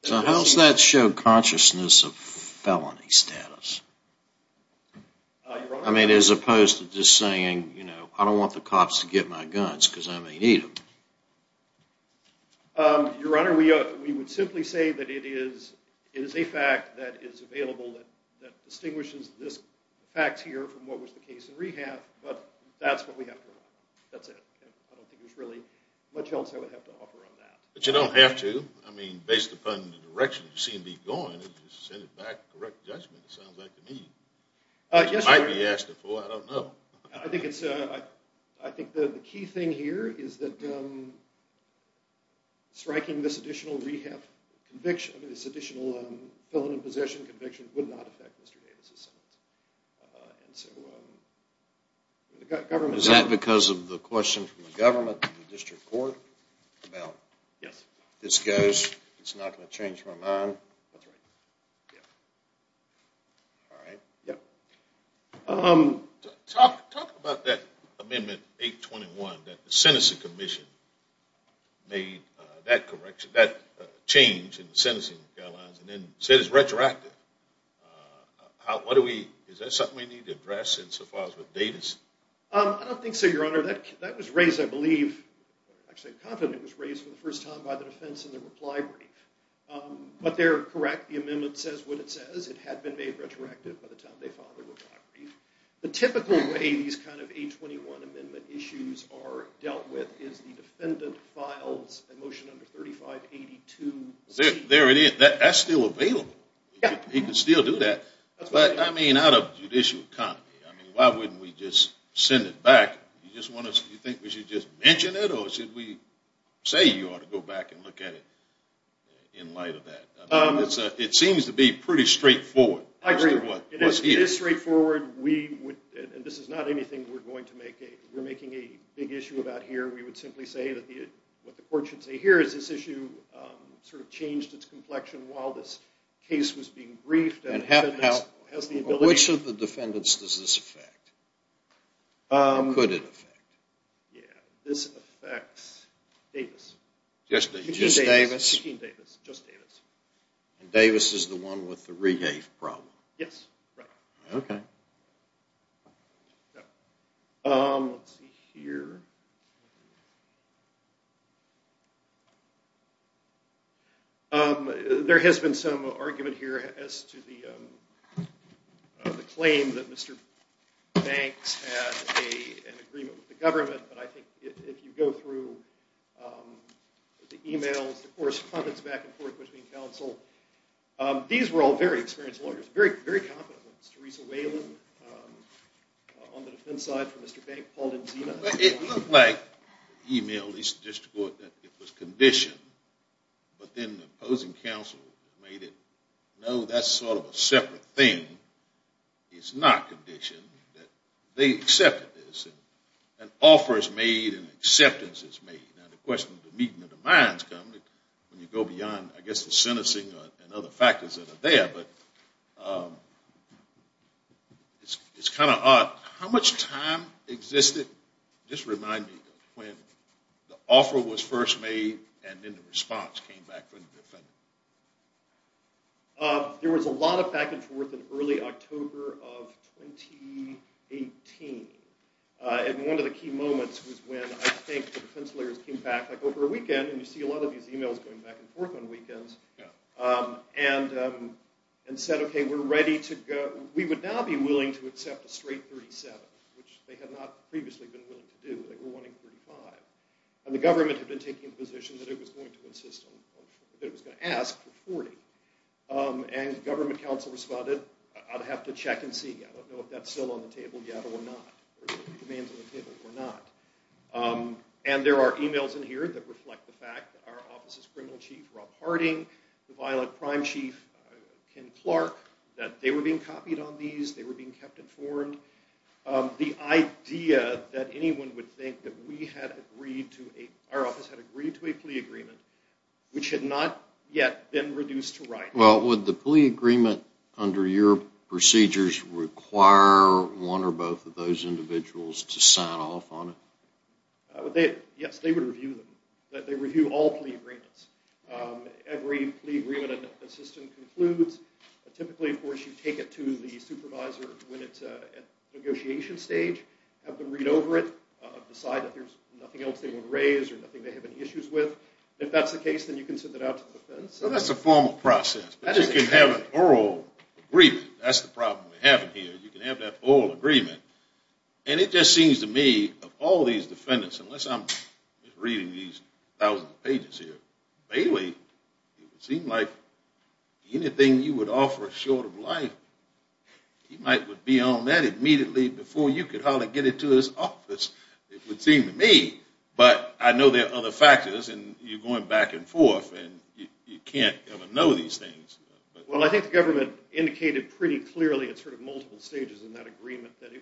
So how does that show consciousness of felony status? I mean, as opposed to just saying, you know, I don't want the cops to get my guns because I may need them. Your Honor, we would simply say that it is a fact that is available that distinguishes this fact here from what was the case in Rehafe, but that's what we have to rely on. That's it. I don't think there's really much else I would have to offer on that. But you don't have to. I mean, based upon the direction that you see him be going, if you just send it back, correct judgment, it sounds like to me. Yes, Your Honor. You might be asking for it. I don't know. I think the key thing here is that striking this additional Rehafe conviction, this additional felony possession conviction, would not affect Mr. Davis' sentence. Is that because of the question from the government, the district court? Yes. This goes, it's not going to change my mind? That's right. All right. Talk about that Amendment 821, that the Sentencing Commission made that correction, that change in the sentencing guidelines, and then said it's retroactive. Is that something we need to address in so far as with Davis? I don't think so, Your Honor. That was raised, I believe, actually I'm confident it was raised for the first time, by the defense in the reply brief. But they're correct. The amendment says what it says. It had been made retroactive by the time they filed the reply brief. The typical way these kind of 821 amendment issues are dealt with is the defendant files a motion under 3582C. There it is. That's still available. Yeah. You can still do that. But, I mean, out of judicial economy, I mean, why wouldn't we just send it back? Do you think we should just mention it, or should we say you ought to go back and look at it in light of that? It seems to be pretty straightforward. I agree. It is straightforward. This is not anything we're going to make a, we're making a big issue about here. We would simply say that what the court should say here is this issue sort of changed its complexion while this case was being briefed. And which of the defendants does this affect? And could it affect? This affects Davis. Just Davis? Just Davis. And Davis is the one with the regave problem? Yes. Right. Okay. Let's see here. There has been some argument here as to the claim that Mr. Banks had an agreement with the government. But I think if you go through the emails, the correspondence back and forth between counsel, these were all very experienced lawyers, very competent lawyers. Teresa Whalen on the defense side for Mr. Banks. Paul Denzina. It looked like the email, at least the district court, that it was conditioned. But then the opposing counsel made it, no, that's sort of a separate thing. It's not conditioned. They accepted this. An offer is made and acceptance is made. Now the question of the meeting of the minds comes when you go beyond, I guess, the sentencing and other factors that are there. But it's kind of odd. How much time existed, just remind me, when the offer was first made and then the response came back from the defendant? There was a lot of back and forth in early October of 2018. And one of the key moments was when I think the defense lawyers came back like over a weekend. And you see a lot of these emails going back and forth on weekends. And said, okay, we're ready to go. We would now be willing to accept a straight 37, which they had not previously been willing to do. They were wanting 35. And the government had been taking a position that it was going to insist on or that it was going to ask for 40. And the government counsel responded, I'd have to check and see. I don't know if that's still on the table yet or not, or if there are demands on the table or not. And there are emails in here that reflect the fact that our office's criminal chief, Rob Harding, the violent crime chief, Ken Clark, that they were being copied on these. They were being kept informed. The idea that anyone would think that our office had agreed to a plea agreement, which had not yet been reduced to writing. Well, would the plea agreement under your procedures require one or both of those individuals to sign off on it? Yes, they would review them. They review all plea agreements. Every plea agreement that the system concludes, typically, of course, you take it to the supervisor when it's at negotiation stage, have them read over it, decide that there's nothing else they want to raise or nothing they have any issues with. If that's the case, then you can send it out to the defendants. Well, that's a formal process. But you can have an oral agreement. That's the problem we have in here. You can have that oral agreement. And it just seems to me of all these defendants, unless I'm reading these thousand pages here, Bailey, it would seem like anything you would offer short of life, he might be on that immediately before you could hardly get it to his office, it would seem to me. But I know there are other factors, and you're going back and forth, and you can't ever know these things. Well, I think the government indicated pretty clearly at sort of multiple stages in that agreement that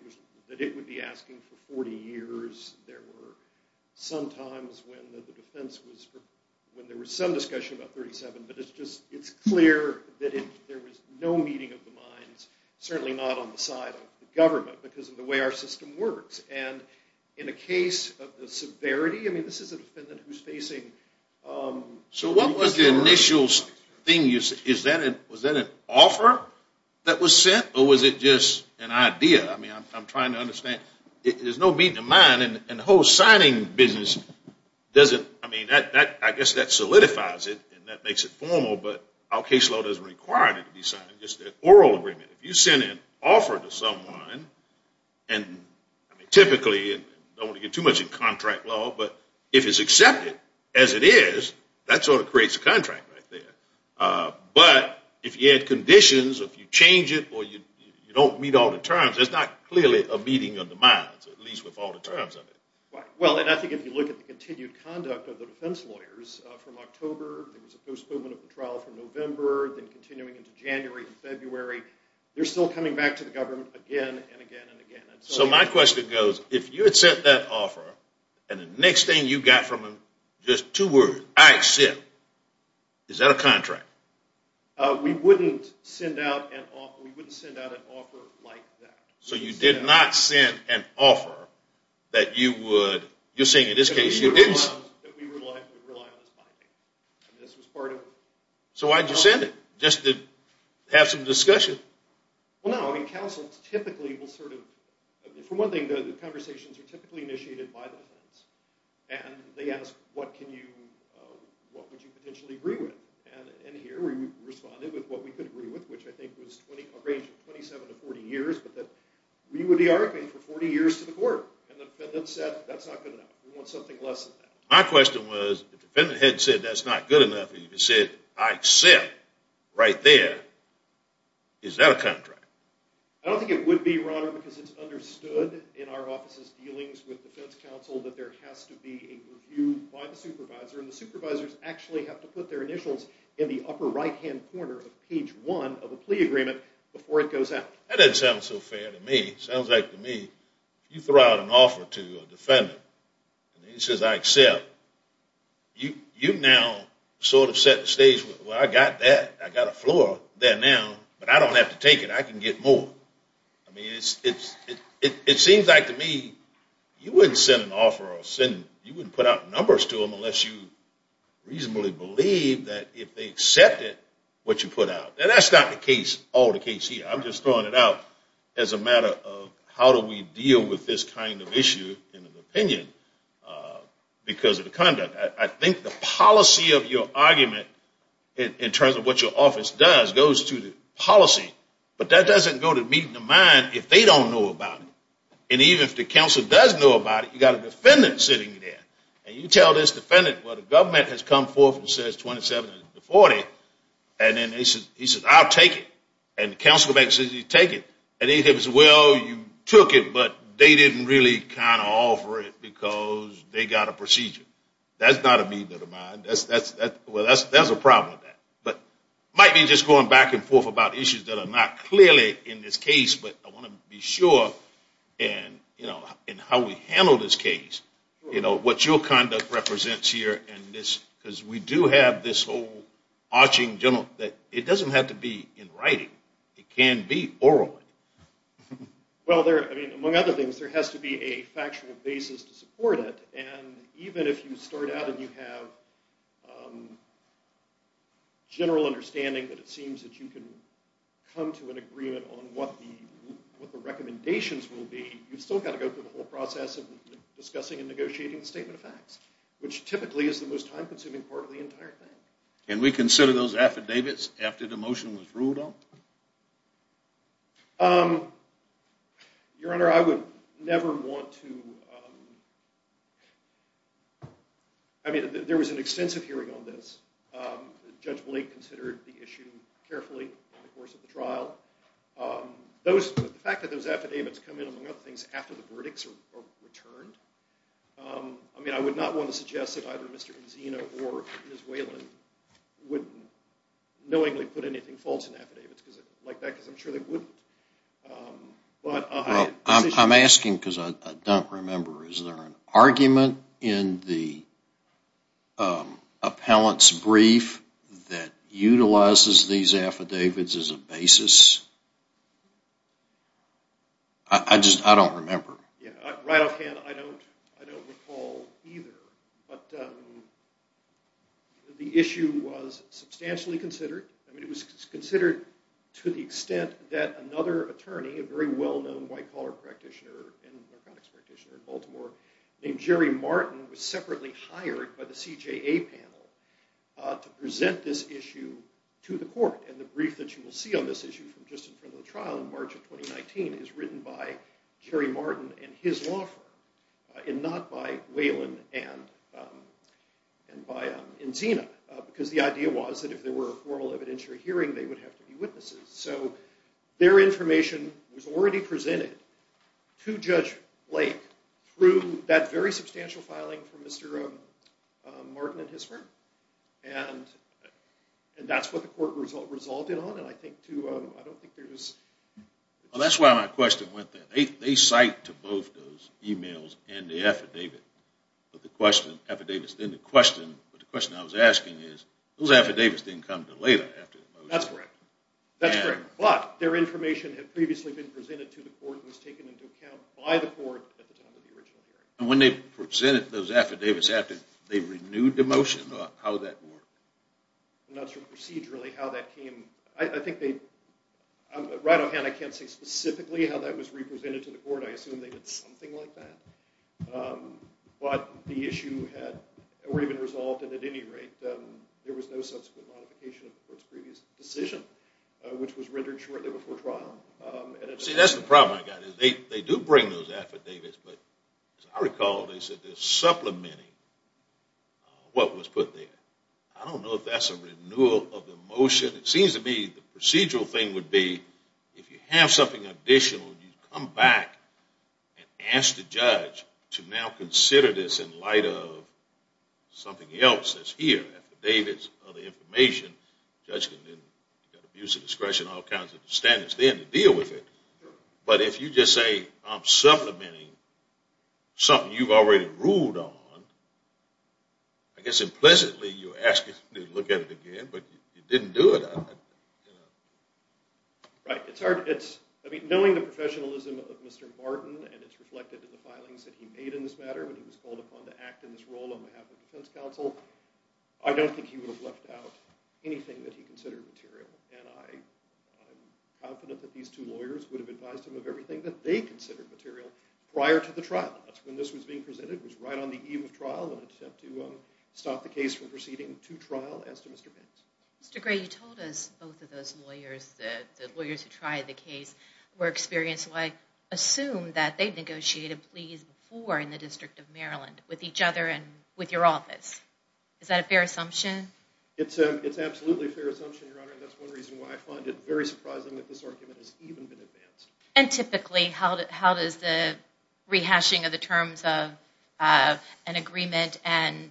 it would be asking for 40 years. There were some times when there was some discussion about 37, but it's clear that there was no meeting of the minds, certainly not on the side of the government, because of the way our system works. And in a case of the severity, I mean, this is a defendant who's facing... So what was the initial thing you said? Was that an offer that was sent, or was it just an idea? I mean, I'm trying to understand. There's no meeting of the mind, and the whole signing business doesn't... I mean, I guess that solidifies it, and that makes it formal, but our case law doesn't require it to be signed. It's just an oral agreement. If you send an offer to someone, and typically, I don't want to get too much into contract law, but if it's accepted as it is, that sort of creates a contract right there. But if you add conditions, or if you change it, or you don't meet all the terms, there's not clearly a meeting of the minds, at least with all the terms of it. Well, and I think if you look at the continued conduct of the defense lawyers, from October, there was a postponement of the trial from November, then continuing into January and February, they're still coming back to the government again and again and again. So my question goes, if you had sent that offer, and the next thing you got from them was just two words, I accept, is that a contract? We wouldn't send out an offer like that. So you did not send an offer that you would, you're saying in this case, you didn't... That we would rely on this binding. And this was part of... So why'd you send it? Just to have some discussion? Well, no, I mean, counsel typically will sort of, for one thing, the conversations are typically initiated by the defense, and they ask, what can you, what would you potentially agree with? And here we responded with what we could agree with, which I think was a range of 27 to 40 years, but that we would be arguing for 40 years to the court. And the defendant said, that's not good enough. We want something less than that. My question was, if the defendant had said, that's not good enough, and you said, I accept, right there, is that a contract? I don't think it would be, your honor, because it's understood in our office's dealings with defense counsel that there has to be a review by the supervisor, and the supervisors actually have to put their initials in the upper right-hand corner of page one of a plea agreement before it goes out. That doesn't sound so fair to me. It sounds like to me, you throw out an offer to a defendant, and he says, I accept. You now sort of set the stage, well, I got that. I got a floor there now, but I don't have to take it. I can get more. I mean, it seems like to me, you wouldn't send an offer, or send, you wouldn't put out numbers to them unless you reasonably believe that if they accepted what you put out. And that's not the case, all the case here. I'm just throwing it out as a matter of how do we deal with this kind of issue in an opinion because of the conduct. I think the policy of your argument in terms of what your office does goes to the policy, but that doesn't go to meeting the mind if they don't know about it. And even if the counsel does know about it, you got a defendant sitting there. And you tell this defendant, well, the government has come forth and says 27 to 40, and then he says, I'll take it. And the counsel says, you take it. And he says, well, you took it, but they didn't really kind of offer it because they got a procedure. That's not a meeting of the mind. Well, there's a problem with that. But it might be just going back and forth about issues that are not clearly in this case, but I want to be sure in how we handle this case, what your conduct represents here. Because we do have this whole arching general. It doesn't have to be in writing. It can be orally. Well, among other things, there has to be a factual basis to support it. And even if you start out and you have general understanding that it seems that you can come to an agreement on what the recommendations will be, you've still got to go through the whole process of discussing and negotiating the statement of facts, which typically is the most time-consuming part of the entire thing. Can we consider those affidavits after the motion was ruled on? Your Honor, I would never want to. I mean, there was an extensive hearing on this. Judge Blake considered the issue carefully over the course of the trial. The fact that those affidavits come in, among other things, after the verdicts are returned, I mean, I would not want to suggest that either Mr. Enzino or Ms. Whalen would knowingly put anything false in affidavits like that because I'm sure they wouldn't. I'm asking because I don't remember. Is there an argument in the appellant's brief that utilizes these affidavits as a basis? I just don't remember. Right offhand, I don't recall either. But the issue was substantially considered. I mean, it was considered to the extent that another attorney, a very well-known white-collar practitioner and narcotics practitioner in Baltimore named Jerry Martin, was separately hired by the CJA panel to present this issue to the court. And the brief that you will see on this issue from just in front of the trial in March of 2019 is written by Jerry Martin and his law firm and not by Whalen and Enzino because the idea was that if there were a formal evidentiary hearing, they would have to be witnesses. So their information was already presented to Judge Blake through that very substantial filing from Mr. Martin and his firm. And that's what the court resulted on. And I don't think there was... Well, that's why my question went there. They cite to both those emails and the affidavit. But the question I was asking is those affidavits didn't come until later after the motion. That's correct. That's correct. But their information had previously been presented to the court and was taken into account by the court at the time of the original hearing. And when they presented those affidavits, after they renewed the motion, how did that work? I'm not sure procedurally how that came. I think they... Right offhand, I can't say specifically how that was represented to the court. I assume they did something like that. But the issue had already been resolved, and at any rate, there was no subsequent modification of the court's previous decision, which was rendered shortly before trial. See, that's the problem I've got. They do bring those affidavits, but as I recall, they said they're supplementing what was put there. I don't know if that's a renewal of the motion. It seems to me the procedural thing would be if you have something additional, you come back and ask the judge to now consider this in light of something else that's here, affidavits, other information, judgment, abuse of discretion, all kinds of standards there to deal with it. But if you just say I'm supplementing something you've already ruled on, I guess implicitly you're asking to look at it again, but you didn't do it. Right. Knowing the professionalism of Mr. Martin, and it's reflected in the filings that he made in this matter when he was called upon to act in this role on behalf of the defense counsel, I don't think he would have left out anything that he considered material, and I'm confident that these two lawyers would have advised him of everything that they considered material prior to the trial. That's when this was being presented. It was right on the eve of trial, an attempt to stop the case from proceeding to trial, as to Mr. Pence. Mr. Gray, you told us both of those lawyers, the lawyers who tried the case, were experienced. So I assume that they negotiated pleas before in the District of Maryland with each other and with your office. Is that a fair assumption? It's absolutely a fair assumption, Your Honor, and that's one reason why I find it very surprising that this argument has even been advanced. And typically, how does the rehashing of the terms of an agreement and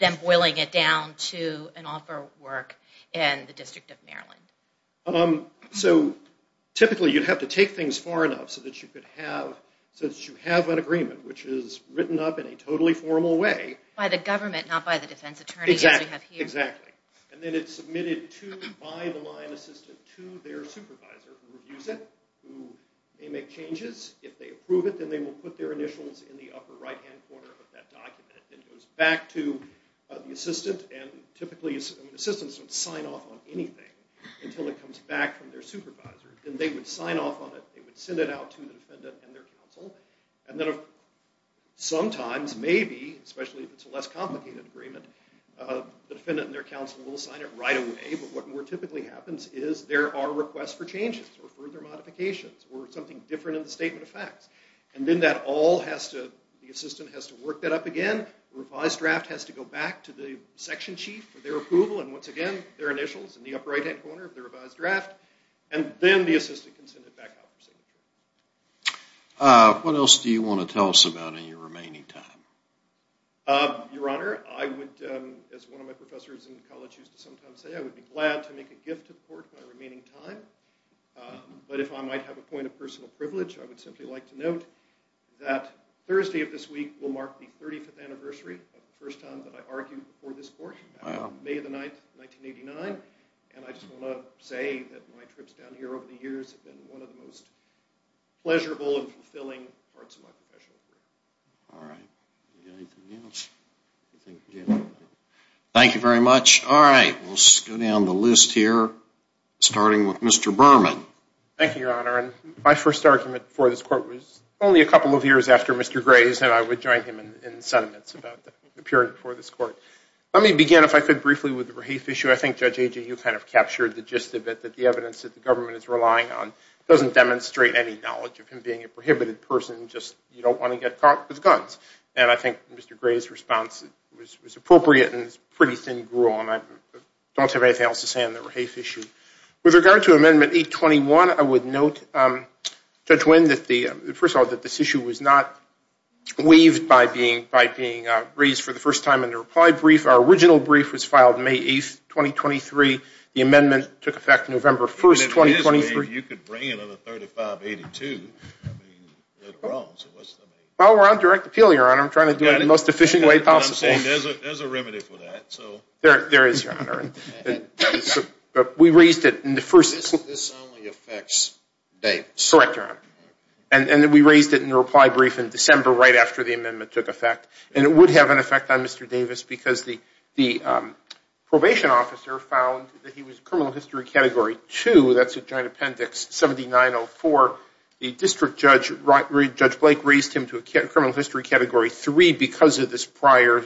them boiling it down to an offer work in the District of Maryland? So typically, you'd have to take things far enough so that you have an agreement, which is written up in a totally formal way. By the government, not by the defense attorney, as we have here. Exactly. And then it's submitted to, by the line assistant, to their supervisor, who reviews it, who may make changes. If they approve it, then they will put their initials in the upper right-hand corner of that document. It goes back to the assistant, and typically, assistants don't sign off on anything. Until it comes back from their supervisor. Then they would sign off on it. They would send it out to the defendant and their counsel. And then sometimes, maybe, especially if it's a less complicated agreement, the defendant and their counsel will sign it right away, but what more typically happens is there are requests for changes or further modifications or something different in the statement of facts. And then that all has to, the assistant has to work that up again. The revised draft has to go back to the section chief for their approval, and once again, their initials in the upper right-hand corner of the revised draft. And then the assistant can send it back out for signature. What else do you want to tell us about in your remaining time? Your Honor, I would, as one of my professors in college used to sometimes say, I would be glad to make a gift to the court in my remaining time. But if I might have a point of personal privilege, I would simply like to note that Thursday of this week will mark the 35th anniversary of the first time that I argued before this court, May the 9th, 1989. And I just want to say that my trips down here over the years have been one of the most pleasurable and fulfilling parts of my professional career. All right. Anything else? Thank you very much. All right. We'll go down the list here, starting with Mr. Berman. Thank you, Your Honor. My first argument before this court was only a couple of years after Mr. Gray's, and I would join him in sentiments about the period before this court. Let me begin, if I could, briefly with the Rahafe issue. I think, Judge Agee, you kind of captured the gist of it, that the evidence that the government is relying on doesn't demonstrate any knowledge of him being a prohibited person, just you don't want to get caught with guns. And I think Mr. Gray's response was appropriate and is pretty thin gruel, and I don't have anything else to say on the Rahafe issue. With regard to Amendment 821, I would note, Judge Winn, first of all, that this issue was not waived by being raised for the first time in the reply brief. Our original brief was filed May 8, 2023. The amendment took effect November 1, 2023. If you could bring in another 3582. Well, we're on direct appeal, Your Honor. I'm trying to do it in the most efficient way possible. There's a remedy for that. There is, Your Honor. We raised it in the first. This only affects Dave. Correct, Your Honor. And we raised it in the reply brief in December, right after the amendment took effect. And it would have an effect on Mr. Davis because the probation officer found that he was criminal history Category 2. That's a giant appendix, 7904. The district judge, Judge Blake, raised him to a criminal history Category 3 because of this prior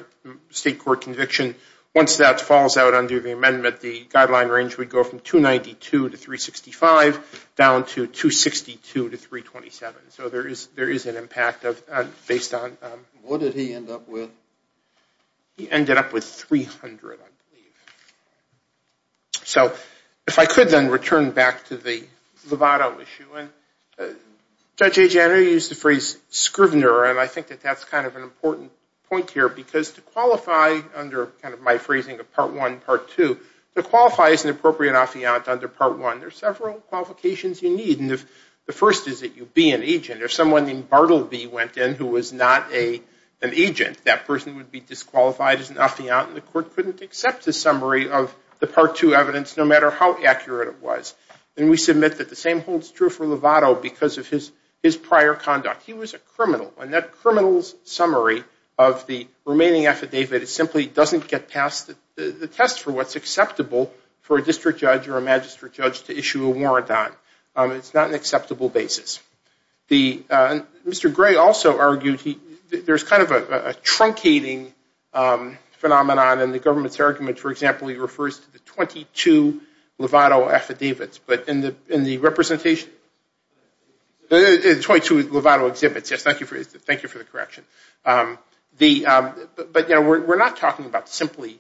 state court conviction. Once that falls out under the amendment, the guideline range would go from 292 to 365 down to 262 to 327. So there is an impact based on. What did he end up with? He ended up with 300, I believe. So if I could then return back to the Lovato issue. Judge Agenor used the phrase, Scrivener, and I think that that's kind of an important point here because to qualify under my phrasing of Part 1, Part 2, to qualify as an appropriate affiant under Part 1, there are several qualifications you need. The first is that you be an agent. If someone named Bartleby went in who was not an agent, that person would be disqualified as an affiant, and the court couldn't accept the summary of the Part 2 evidence no matter how accurate it was. And we submit that the same holds true for Lovato because of his prior conduct. He was a criminal, and that criminal's summary of the remaining affidavit simply doesn't get past the test for what's acceptable for a district judge or a magistrate judge to issue a warrant on. It's not an acceptable basis. Mr. Gray also argued there's kind of a truncating phenomenon in the government's argument. For example, he refers to the 22 Lovato affidavits, but in the representation? The 22 Lovato exhibits. Yes, thank you for the correction. But, you know, we're not talking about simply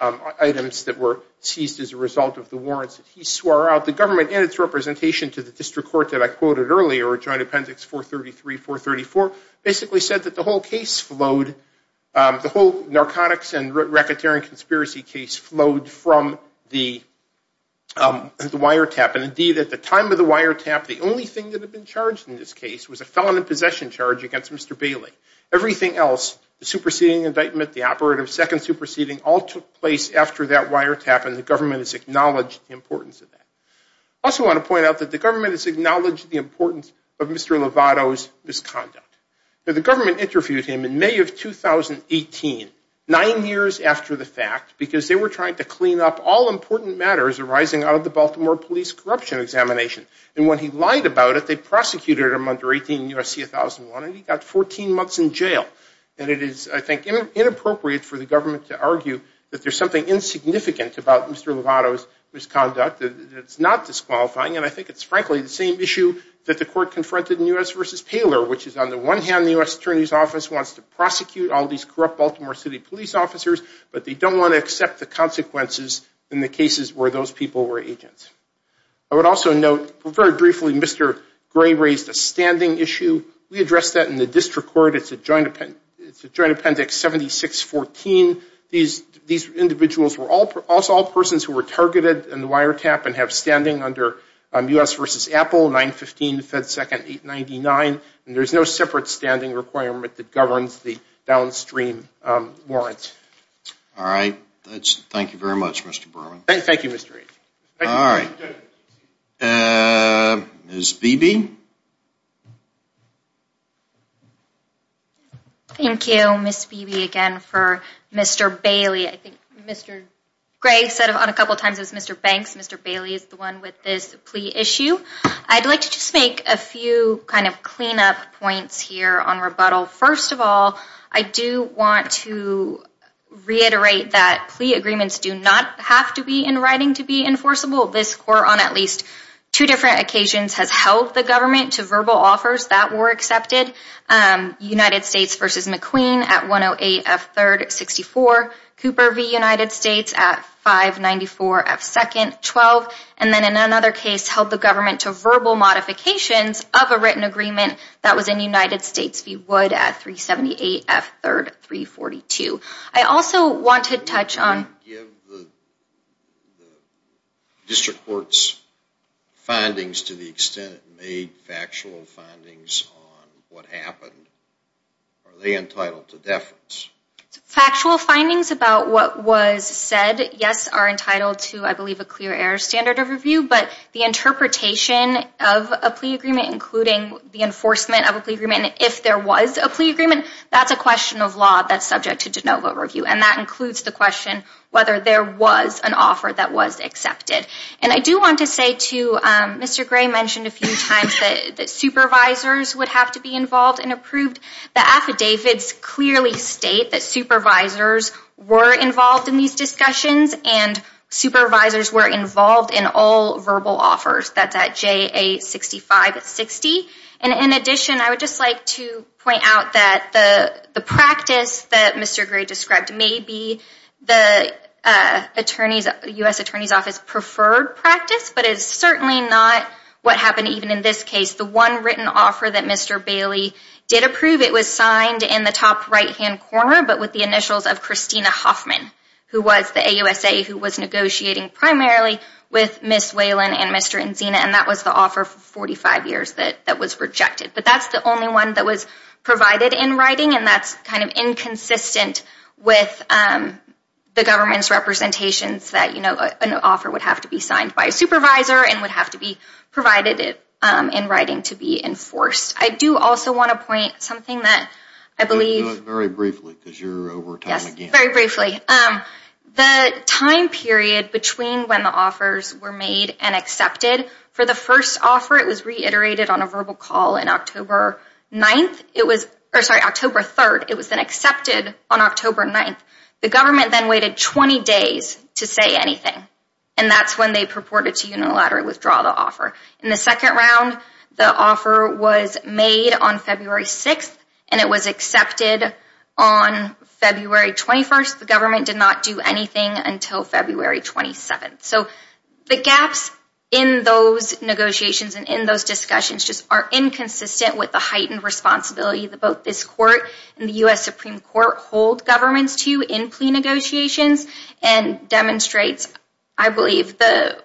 items that were seized as a result of the warrants that he swore out. The government in its representation to the district court that I quoted earlier, Joint Appendix 433, 434, basically said that the whole case flowed, the whole narcotics and racketeering conspiracy case flowed from the wiretap. And, indeed, at the time of the wiretap, the only thing that had been charged in this case was a felon in possession charge against Mr. Bailey. Everything else, the superseding indictment, the operative second superseding, all took place after that wiretap, and the government has acknowledged the importance of that. I also want to point out that the government has acknowledged the importance of Mr. Lovato's misconduct. Now, the government interviewed him in May of 2018, nine years after the fact, because they were trying to clean up all important matters arising out of the Baltimore police corruption examination. And when he lied about it, they prosecuted him under 18 U.S.C. 1001, and he got 14 months in jail. And it is, I think, inappropriate for the government to argue that there's something insignificant about Mr. Lovato's misconduct that's not disqualifying. And I think it's, frankly, the same issue that the court confronted in U.S. versus Paylor, which is on the one hand the U.S. Attorney's Office wants to prosecute all these corrupt Baltimore City police officers, but they don't want to accept the consequences in the cases where those people were agents. I would also note, very briefly, Mr. Gray raised a standing issue. We addressed that in the district court. It's a joint appendix 7614. These individuals were all persons who were targeted in the wiretap and have standing under U.S. versus Apple, 915 Fed Second 899, and there's no separate standing requirement that governs the downstream warrants. All right. Thank you very much, Mr. Berman. Thank you, Mr. Aitken. All right. Ms. Beebe? Thank you, Ms. Beebe, again for Mr. Bailey. I think Mr. Gray said a couple times it was Mr. Banks. Mr. Bailey is the one with this plea issue. I'd like to just make a few kind of cleanup points here on rebuttal. First of all, I do want to reiterate that plea agreements do not have to be in writing to be enforceable. This court on at least two different occasions has held the government to verbal offers that were accepted, United States versus McQueen at 108F3rd64, Cooper v. United States at 594F2nd12, and then in another case held the government to verbal modifications of a written agreement that was in United States v. Wood at 378F3rd342. I also want to touch on the district court's findings to the extent it made factual findings on what happened. Are they entitled to deference? Factual findings about what was said, yes, are entitled to, I believe, a clear error standard of review, but the interpretation of a plea agreement, including the enforcement of a plea agreement, if there was a plea agreement, that's a question of law that's subject to de novo review, and that includes the question whether there was an offer that was accepted. I do want to say, too, Mr. Gray mentioned a few times that supervisors would have to be involved and approved. The affidavits clearly state that supervisors were involved in these discussions and supervisors were involved in all verbal offers. That's at JA6560. In addition, I would just like to point out that the practice that Mr. Gray described may be the U.S. Attorney's Office preferred practice, but it's certainly not what happened even in this case. The one written offer that Mr. Bailey did approve, it was signed in the top right-hand corner, but with the initials of Christina Hoffman, who was the AUSA who was negotiating primarily with Ms. Whalen and Mr. Enzina, and that was the offer for 45 years that was rejected. But that's the only one that was provided in writing, and that's kind of inconsistent with the government's representations that an offer would have to be signed by a supervisor and would have to be provided in writing to be enforced. I do also want to point something that I believe... Very briefly, because you're over time again. Yes, very briefly. The time period between when the offers were made and accepted for the first offer, it was reiterated on a verbal call on October 9th. Sorry, October 3rd. It was then accepted on October 9th. The government then waited 20 days to say anything, and that's when they purported to unilaterally withdraw the offer. In the second round, the offer was made on February 6th, and it was accepted on February 21st. The government did not do anything until February 27th. So the gaps in those negotiations and in those discussions just are inconsistent with the heightened responsibility that both this Court and the U.S. Supreme Court hold governments to in plea negotiations and demonstrates, I believe, the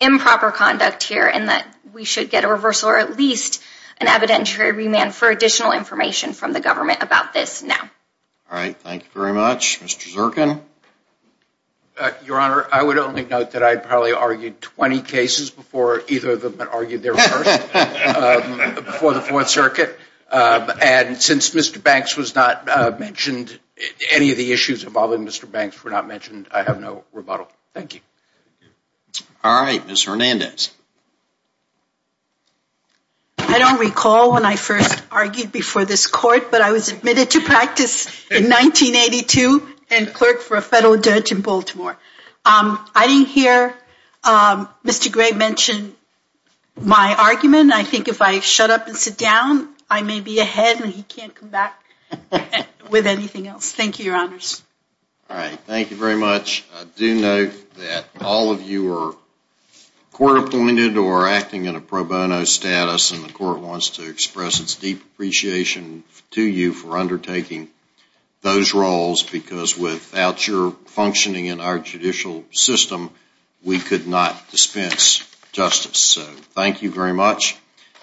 improper conduct here in that we should get a reversal or at least an evidentiary remand for additional information from the government about this now. All right, thank you very much. Mr. Zirkin? Your Honor, I would only note that I probably argued 20 cases before either of them had argued their first before the Fourth Circuit. And since Mr. Banks was not mentioned, any of the issues involving Mr. Banks were not mentioned, I have no rebuttal. Thank you. All right, Ms. Hernandez? I don't recall when I first argued before this Court, but I was admitted to practice in 1982 and clerked for a federal judge in Baltimore. I didn't hear Mr. Gray mention my argument. I think if I shut up and sit down, I may be ahead and he can't come back with anything else. Thank you, Your Honors. All right, thank you very much. I do note that all of you are court-appointed or acting in a pro bono status, and the Court wants to express its deep appreciation to you for undertaking those roles because without your functioning in our judicial system, we could not dispense justice. So thank you very much.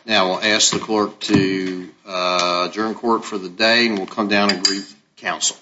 Now I'll ask the clerk to adjourn court for the day, and we'll come down and brief counsel.